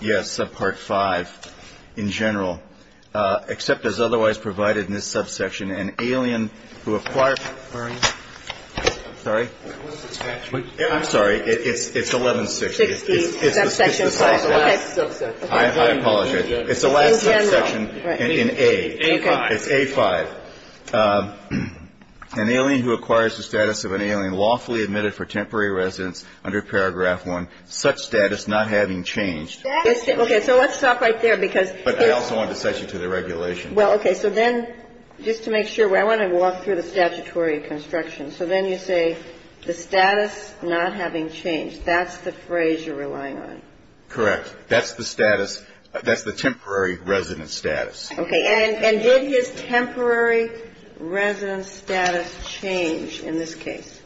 Yes. Subpart 5 in general, except as otherwise provided in this subsection, an alien who acquires. Sorry? I'm sorry. It's 1160. It's the last subsection. I apologize. It's the last subsection in A. A5. It's A5. An alien who acquires the status of an alien lawfully admitted for temporary residence under paragraph 1, such status not having changed. Okay. So let's stop right there because. But I also want to cite you to the regulations. Well, okay. So then just to make sure, I want to walk through the statutory construction. So then you say the status not having changed. That's the phrase you're relying on. Correct. That's the status. That's the temporary residence status. Okay. And did his temporary residence status change in this case?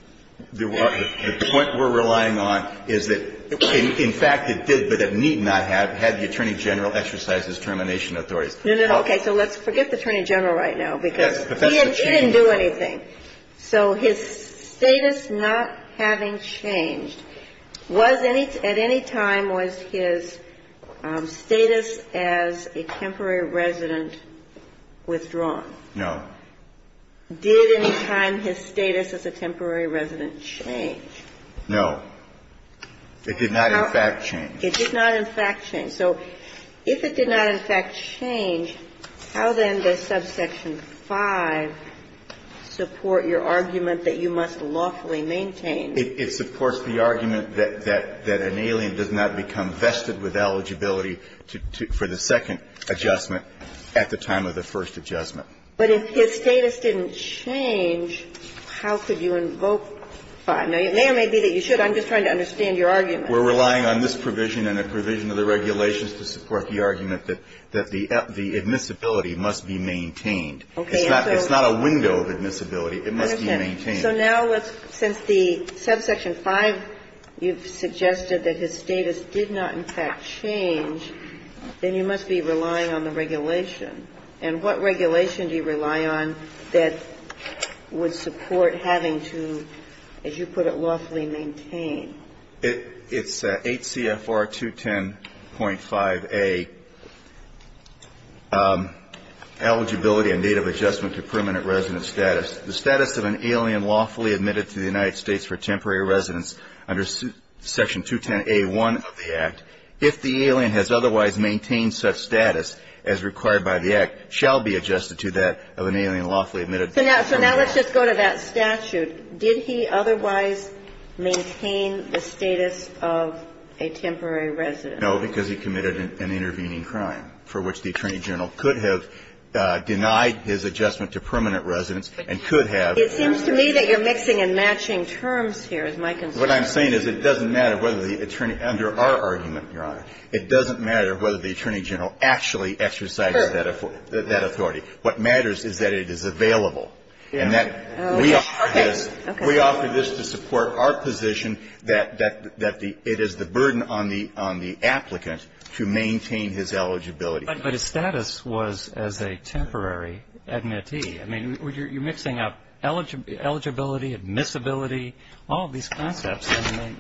The point we're relying on is that, in fact, it did, but it need not have. Had the Attorney General exercised his termination authorities. No, no. Okay. So let's forget the Attorney General right now because he didn't do anything. So his status not having changed, was at any time was his status as a temporary resident withdrawn? No. Did any time his status as a temporary resident change? No. It did not, in fact, change. It did not, in fact, change. So if it did not, in fact, change, how then does subsection 5 support your argument that you must lawfully maintain? It supports the argument that an alien does not become vested with eligibility for the second adjustment at the time of the first adjustment. But if his status didn't change, how could you invoke 5? Now, it may or may be that you should. I'm just trying to understand your argument. We're relying on this provision and a provision of the regulations to support the argument that the admissibility must be maintained. Okay. It's not a window of admissibility. It must be maintained. So now let's, since the subsection 5, you've suggested that his status did not, in fact, change, then you must be relying on the regulation. And what regulation do you rely on that would support having to, as you put it, lawfully maintain? It's 8 CFR 210.5A, eligibility and date of adjustment to permanent resident status. The status of an alien lawfully admitted to the United States for temporary residence under section 210A1 of the Act, if the alien has otherwise maintained such status as required by the Act, shall be adjusted to that of an alien lawfully admitted. So now let's just go to that statute. Did he otherwise maintain the status of a temporary resident? No, because he committed an intervening crime for which the Attorney General could have denied his adjustment to permanent residence and could have. It seems to me that you're mixing and matching terms here, is my concern. What I'm saying is it doesn't matter whether the Attorney, under our argument, Your Honor, it doesn't matter whether the Attorney General actually exercises that authority. What matters is that it is available and that we offer this to support our position that it is the burden on the applicant to maintain his eligibility. But his status was as a temporary admittee. I mean, you're mixing up eligibility, admissibility, all of these concepts,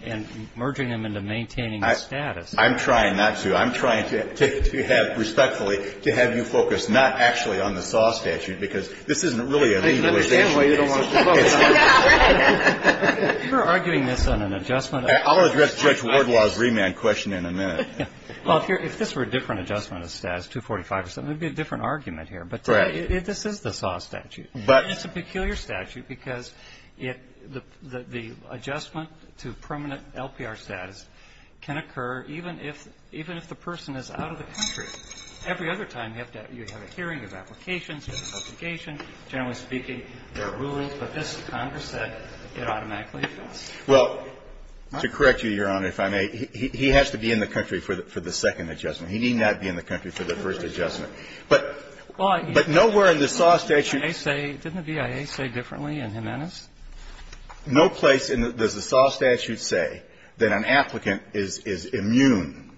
and merging them into maintaining the status. I'm trying not to. I'm trying to have, respectfully, to have you focus not actually on the SAW statute because this isn't really a legalization case. You're arguing this on an adjustment. I'll address Judge Wardlaw's remand question in a minute. Well, if this were a different adjustment of status, 245 or something, it would be a different argument here. But this is the SAW statute. It's a peculiar statute because the adjustment to permanent LPR status can occur even if the person is out of the country. Every other time you have a hearing, you have applications, you have an application. Generally speaking, there are rulings. But this, Congress said, it automatically occurs. Well, to correct you, Your Honor, if I may, he has to be in the country for the second adjustment. He need not be in the country for the first adjustment. But nowhere in the SAW statute. Didn't the BIA say differently in Jimenez? No place in the SAW statute say that an applicant is immune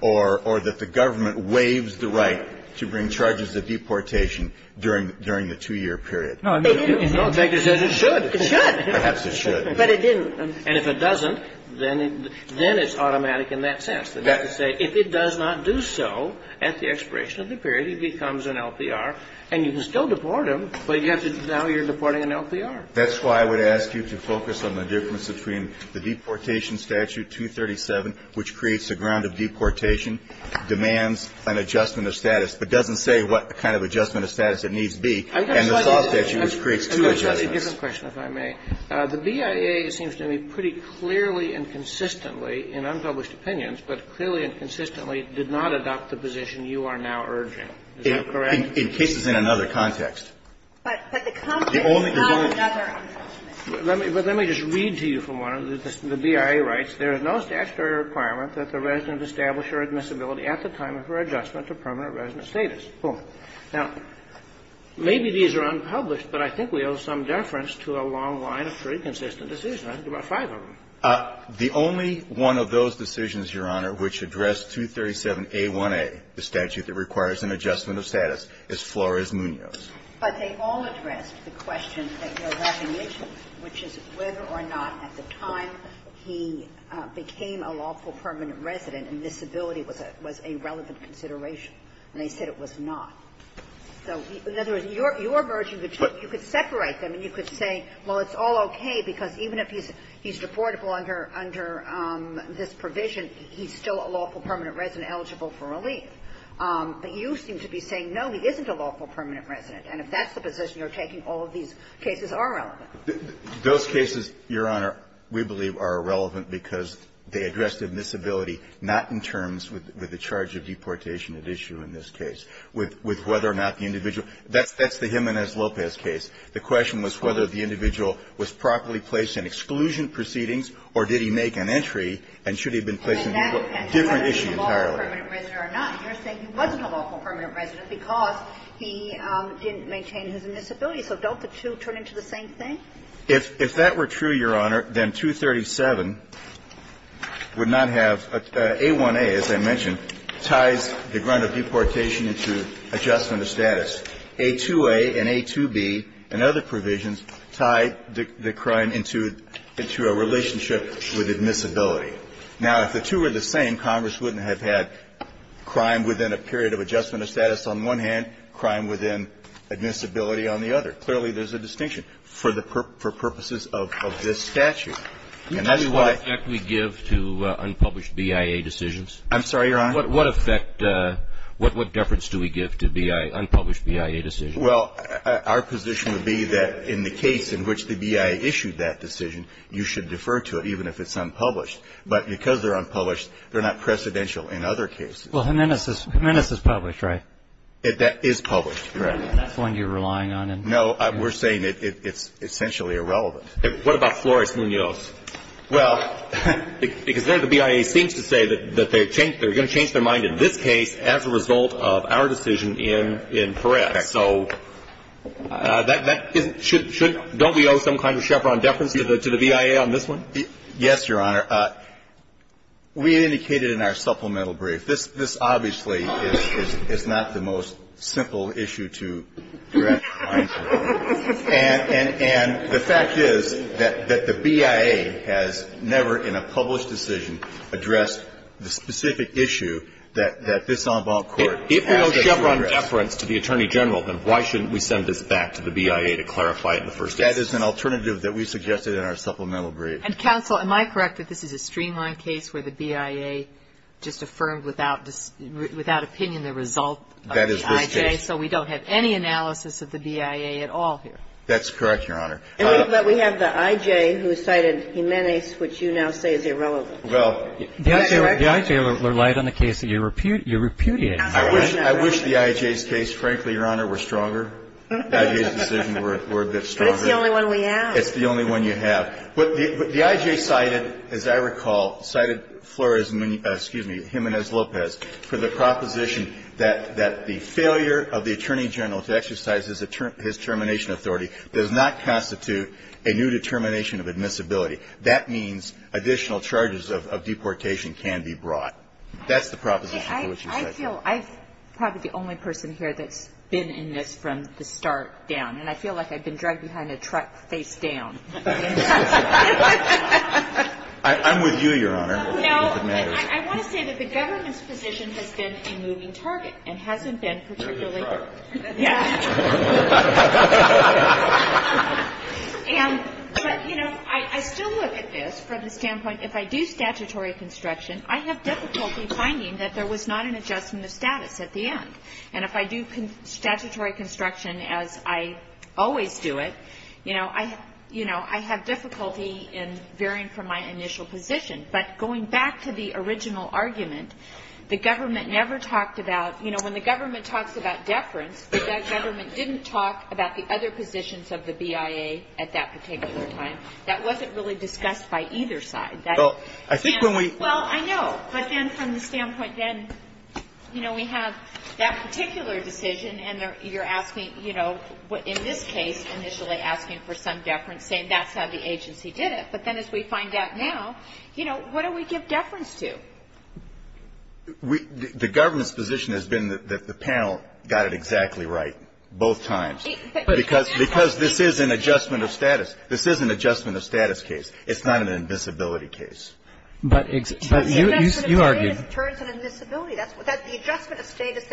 or that the government waives the right to bring charges of deportation during the two-year period. No, it didn't. It should. It should. Perhaps it should. But it didn't. And if it doesn't, then it's automatic in that sense. That is to say, if it does not do so at the expiration of the period, he becomes an LPR, and you can still deport him, but now you're deporting an LPR. That's why I would ask you to focus on the difference between the deportation statute, 237, which creates the ground of deportation, demands an adjustment of status, but doesn't say what kind of adjustment of status it needs to be, and the SAW statute, which creates two adjustments. I've got a slightly different question, if I may. The BIA seems to me pretty clearly and consistently in unpublished opinions, but clearly and consistently did not adopt the position you are now urging. Is that correct? In cases in another context. But the company has another adjustment. Let me just read to you from one of the BIA rights. There is no statutory requirement that the resident establish her admissibility at the time of her adjustment to permanent resident status. Now, maybe these are unpublished, but I think we owe some deference to a long line of pretty consistent decisions. I think there are five of them. The only one of those decisions, Your Honor, which addressed 237A1A, the statute that requires an adjustment of status, is Flores-Munoz. But they all addressed the question at your recommendation, which is whether or not at the time he became a lawful permanent resident, admissibility was a relevant consideration. And they said it was not. So, in other words, your urge, you could separate them and you could say, well, it's all okay, because even if he's deportable under this provision, he's still a lawful permanent resident eligible for relief. But you seem to be saying, no, he isn't a lawful permanent resident, and if that's the position you're taking, all of these cases are relevant. Those cases, Your Honor, we believe are relevant because they addressed admissibility not in terms with the charge of deportation at issue in this case, with whether or not the individual – that's the Jimenez-Lopez case. The question was whether the individual was properly placed in exclusion proceedings or did he make an entry and should he have been placed in a different issue entirely. And you're saying he wasn't a lawful permanent resident because he didn't maintain his admissibility. So don't the two turn into the same thing? If that were true, Your Honor, then 237 would not have – A1a, as I mentioned, ties the grunt of deportation into adjustment of status. A2a and A2b and other provisions tie the crime into a relationship with admissibility. Now, if the two were the same, Congress wouldn't have had crime within a period of adjustment of status on one hand, crime within admissibility on the other. Clearly, there's a distinction for purposes of this statute. And that's why – Can you tell me what effect we give to unpublished BIA decisions? I'm sorry, Your Honor? What effect – what deference do we give to unpublished BIA decisions? Well, our position would be that in the case in which the BIA issued that decision, you should defer to it even if it's unpublished. But because they're unpublished, they're not precedential in other cases. Well, Jimenez is published, right? That is published, correct. That's the one you're relying on? No, we're saying it's essentially irrelevant. What about Flores-Munoz? Well, because then the BIA seems to say that they're going to change their mind in this case as a result of our decision in Perez. So don't we owe some kind of Chevron deference to the BIA on this one? Yes, Your Honor. We indicated in our supplemental brief, this obviously is not the most simple issue to address. And the fact is that the BIA has never, in a published decision, addressed the specific issue that this en banc court has to address. If we owe Chevron deference to the Attorney General, then why shouldn't we send this back to the BIA to clarify it in the first instance? That is an alternative that we suggested in our supplemental brief. And, Counsel, am I correct that this is a streamlined case where the BIA just affirmed without opinion the result of the IJ? That is this case. So we don't have any analysis of the BIA at all here? That's correct, Your Honor. But we have the IJ who cited Jimenez, which you now say is irrelevant. Well, the IJ relied on the case that you repudiated. I wish the IJ's case, frankly, Your Honor, were stronger. The IJ's decision were a bit stronger. But it's the only one we have. It's the only one you have. But the IJ cited, as I recall, cited Flores, excuse me, Jimenez-Lopez, for the proposition that the failure of the Attorney General to exercise his termination authority does not constitute a new determination of admissibility. That means additional charges of deportation can be brought. That's the proposition to which you cited. I feel I'm probably the only person here that's been in this from the start down. And I feel like I've been dragged behind a truck face down. I'm with you, Your Honor. No. I want to say that the government's position has been a moving target and hasn't been particularly A moving target. Yes. But, you know, I still look at this from the standpoint if I do statutory construction, I have difficulty finding that there was not an adjustment of status at the end. And if I do statutory construction as I always do it, you know, I have difficulty in veering from my initial position. But going back to the original argument, the government never talked about, you know, when the government talks about deference, the government didn't talk about the other positions of the BIA at that particular time. That wasn't really discussed by either side. Well, I think when we Well, I know. But then from the standpoint then, you know, we have that particular decision and you're asking, you know, in this case, initially asking for some deference, saying that's how the agency did it. But then as we find out now, you know, what do we give deference to? The government's position has been that the panel got it exactly right both times. Because this is an adjustment of status. This is an adjustment of status case. It's not an invisibility case. But you argued It turns an invisibility. That's the adjustment of status.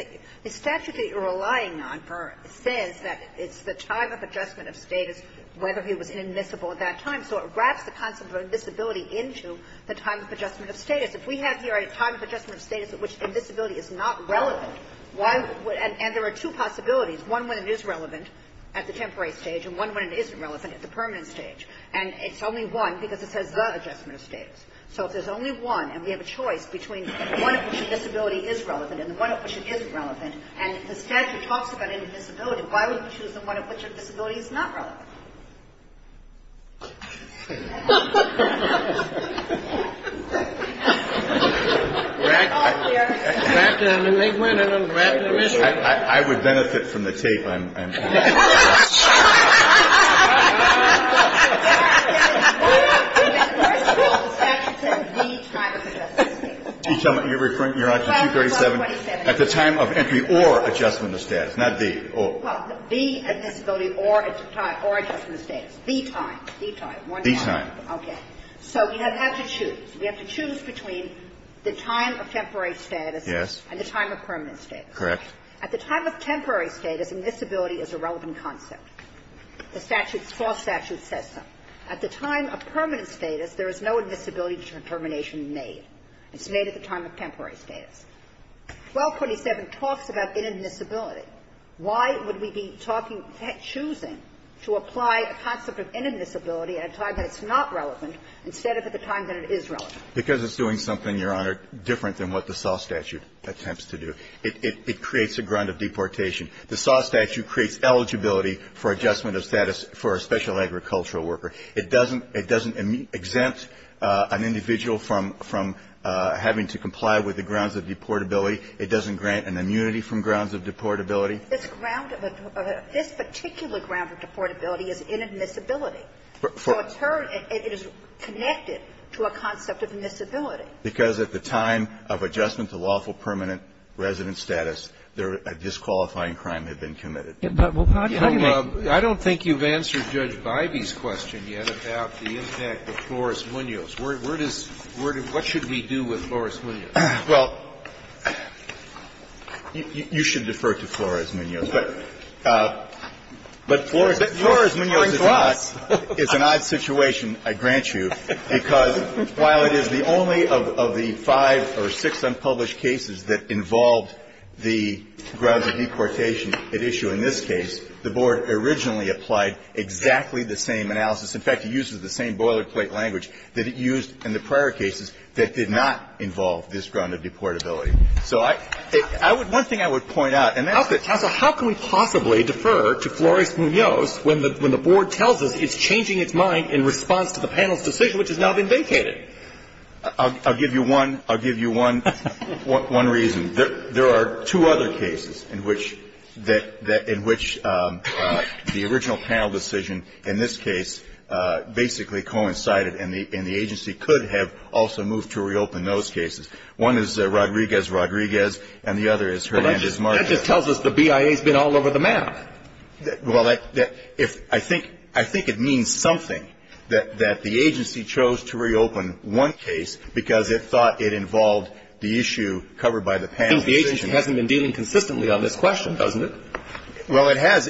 The statute that you're relying on says that it's the time of adjustment of status whether he was inadmissible at that time. So it wraps the concept of invisibility into the time of adjustment of status. If we have here a time of adjustment of status at which invisibility is not relevant, and there are two possibilities, one when it is relevant at the temporary stage and one when it isn't relevant at the permanent stage. And it's only one because it says the adjustment of status. So if there's only one and we have a choice between the one at which invisibility is relevant and the one at which it isn't relevant, and the statute talks about invisibility, why would we choose the one at which invisibility is not relevant? I would benefit from the tape. I'm sorry. I'm sorry. I'm sorry. The statute says the time of adjustment of status. You're referring to 237. At the time of entry or adjustment of status. I'm sorry. I'm sorry. I'm sorry. I'm sorry. The time. The time. Okay. So you have to choose. You have to choose between the time of temporary status and the time of permanent status. Correct. At the time of temporary status, invisibility is a relevant concept. The statute, the full statute says so. At the time of permanent status, there is no invisibility determination made. It's made at the time of temporary status. 1247 talks about inadmissibility. Why would we be choosing to apply a concept of inadmissibility at a time that's not relevant, instead of at the time that it is relevant? Because it's doing something, Your Honor, different than what the SAW statute attempts to do. It creates a ground of deportation. The SAW statute creates eligibility for adjustment of status for a special agricultural worker. It doesn't exempt an individual from having to comply with the grounds of deportability. It doesn't grant an immunity from grounds of deportability. This particular ground of deportability is inadmissibility. So in turn, it is connected to a concept of admissibility. Because at the time of adjustment to lawful permanent resident status, a disqualifying crime had been committed. I don't think you've answered Judge Bivey's question yet about the impact of Flores-Munoz. What should we do with Flores-Munoz? Well, you should defer to Flores-Munoz. But Flores-Munoz is an odd situation, I grant you, because while it is the only of the five or six unpublished cases that involved the grounds of deportation at issue in this case, the Board originally applied exactly the same analysis. In fact, it uses the same boilerplate language that it used in the prior cases that did not involve this ground of deportability. So I would one thing I would point out, and that's that Counsel, how can we possibly defer to Flores-Munoz when the Board tells us it's changing its mind in response to the panel's decision, which has now been vacated? I'll give you one reason. There are two other cases in which the original panel decision in this case basically coincided, and the agency could have also moved to reopen those cases. One is Rodriguez-Rodriguez, and the other is Herlandez-Marcia. But that just tells us the BIA has been all over the map. Well, I think it means something that the agency chose to reopen one case because it thought it involved the issue covered by the panel decision. I think the agency hasn't been dealing consistently on this question, doesn't it? Well, it has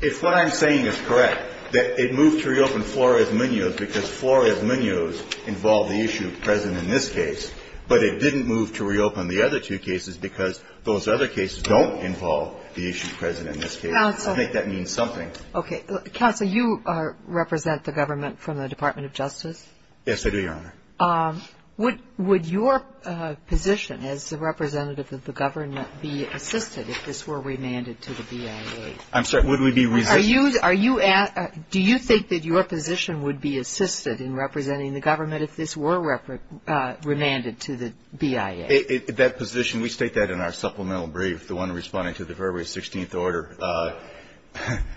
if what I'm saying is correct, that it moved to reopen Flores-Munoz because Flores-Munoz involved the issue present in this case, but it didn't move to reopen the other two cases because those other cases don't involve the issue present in this case. Counsel. I think that means something. Okay. Counsel, you represent the government from the Department of Justice? Yes, I do, Your Honor. Would your position as the representative of the government be assisted if this were remanded to the BIA? I'm sorry. Would we be resisting? Do you think that your position would be assisted in representing the government if this were remanded to the BIA? That position, we state that in our supplemental brief, the one responding to the February 16th order,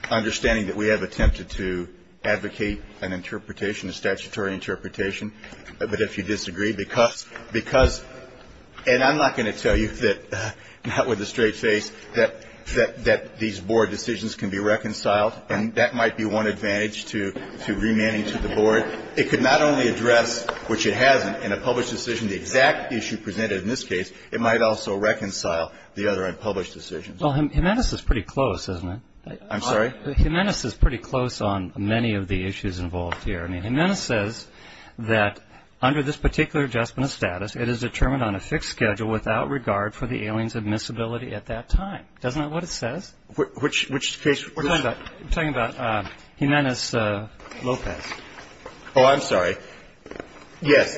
understanding that we have attempted to advocate an interpretation, a statutory interpretation, but if you disagree, because, and I'm not going to tell you that not with a straight face, that these board decisions can be reconciled, and that might be one advantage to remanding to the board. It could not only address, which it hasn't in a published decision, the exact issue presented in this case, it might also reconcile the other unpublished decisions. Well, Jimenez is pretty close, isn't he? I'm sorry? Jimenez is pretty close on many of the issues involved here. I mean, Jimenez says that under this particular adjustment of status, it is determined on a fixed schedule without regard for the alien's admissibility at that time. Isn't that what it says? Which case? We're talking about Jimenez Lopez. Oh, I'm sorry. Yes.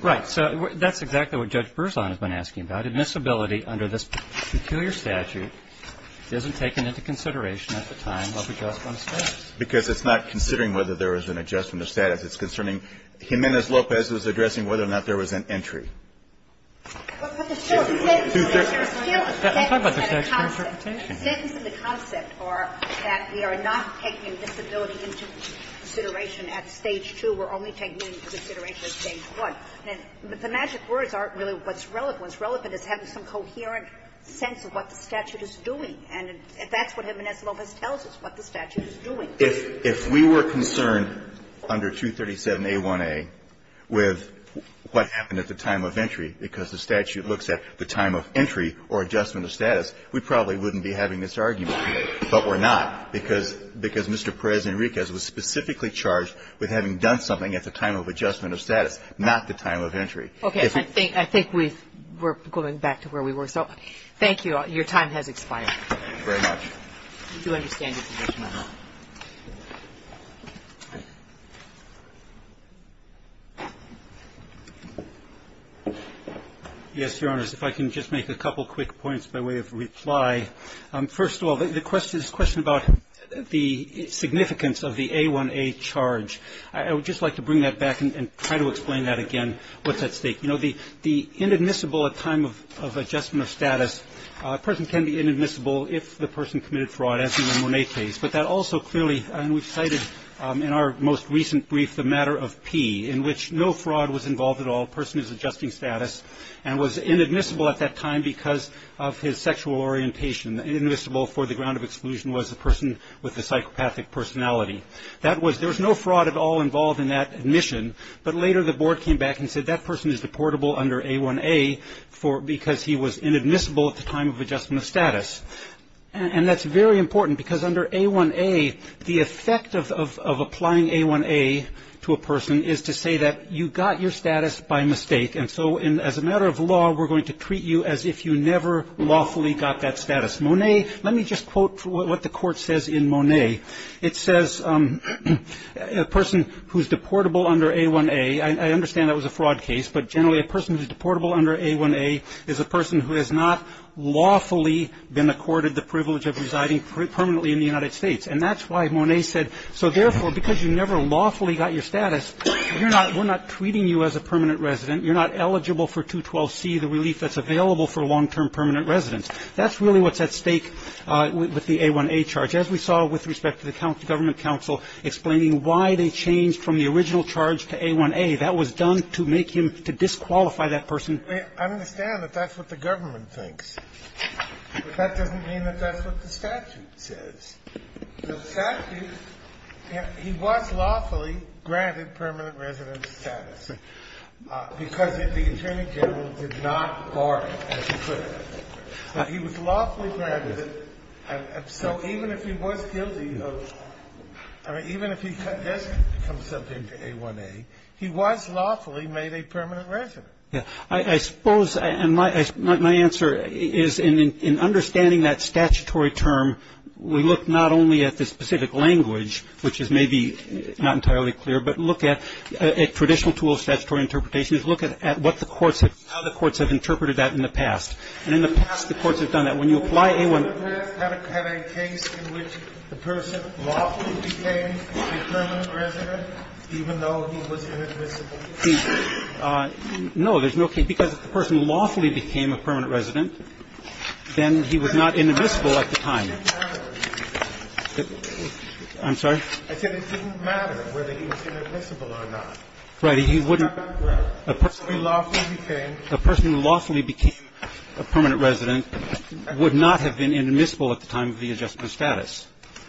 Right. So that's exactly what Judge Berzon has been asking about. Admissibility under this peculiar statute isn't taken into consideration at the time of adjustment of status. Because it's not considering whether there was an adjustment of status. It's concerning Jimenez Lopez was addressing whether or not there was an entry. But the sentence in the concept are that we are not taking admissibility into consideration at Stage 2. We're only taking it into consideration at Stage 1. And the magic words aren't really what's relevant. What's relevant is having some coherent sense of what the statute is doing. And that's what Jimenez Lopez tells us, what the statute is doing. So if we were concerned under 237A1A with what happened at the time of entry, because the statute looks at the time of entry or adjustment of status, we probably wouldn't be having this argument. But we're not, because Mr. Perez-Enriquez was specifically charged with having done something at the time of adjustment of status, not the time of entry. Okay. I think we're going back to where we were. So thank you. Your time has expired. Thank you very much. We do understand your position, Your Honor. Yes, Your Honor. If I can just make a couple quick points by way of reply. First of all, the question is a question about the significance of the A1A charge. I would just like to bring that back and try to explain that again, what's at stake. You know, the inadmissible at time of adjustment of status, a person can be inadmissible if the person committed fraud, as in the Monet case. But that also clearly, and we've cited in our most recent brief the matter of P, in which no fraud was involved at all, person is adjusting status, and was inadmissible at that time because of his sexual orientation. Inadmissible for the ground of exclusion was a person with a psychopathic personality. That was, there was no fraud at all involved in that admission, but later the board came back and said that person is deportable under A1A because he was inadmissible at the time of adjustment of status. And that's very important because under A1A, the effect of applying A1A to a person is to say that you got your status by mistake. And so as a matter of law, we're going to treat you as if you never lawfully got that status. Monet, let me just quote what the court says in Monet. It says a person who's deportable under A1A, I understand that was a fraud case, but generally a person who's deportable under A1A is a person who has not lawfully been accorded the privilege of residing permanently in the United States. And that's why Monet said, so therefore, because you never lawfully got your status, we're not treating you as a permanent resident. You're not eligible for 212C, the relief that's available for long-term permanent residents. That's really what's at stake with the A1A charge. As we saw with respect to the government counsel explaining why they changed from the original charge to A1A, that was done to make him to disqualify that person. I understand that that's what the government thinks. But that doesn't mean that that's what the statute says. The statute, he was lawfully granted permanent resident status because the Attorney General did not bar it as he could. He was lawfully granted it. And so even if he was guilty of – I mean, even if he does become subject to A1A, he was lawfully made a permanent resident. Yeah. I suppose – and my answer is in understanding that statutory term, we look not only at the specific language, which is maybe not entirely clear, but look at – a traditional tool of statutory interpretation is look at what the courts have – how the courts have interpreted that in the past. And in the past, the courts have done that. When you apply A1A – No, there's no case. Because if the person lawfully became a permanent resident, then he was not inadmissible at the time. I'm sorry? Right. He wouldn't – The person who lawfully became a permanent resident would not have been inadmissible at the time of the adjustment of status. Okay. I think that your time has expired. Thank you. Thank you. Thank you. Thank you. Thank you. Thank you. Thank you. Thank you. Thank you. Thank you.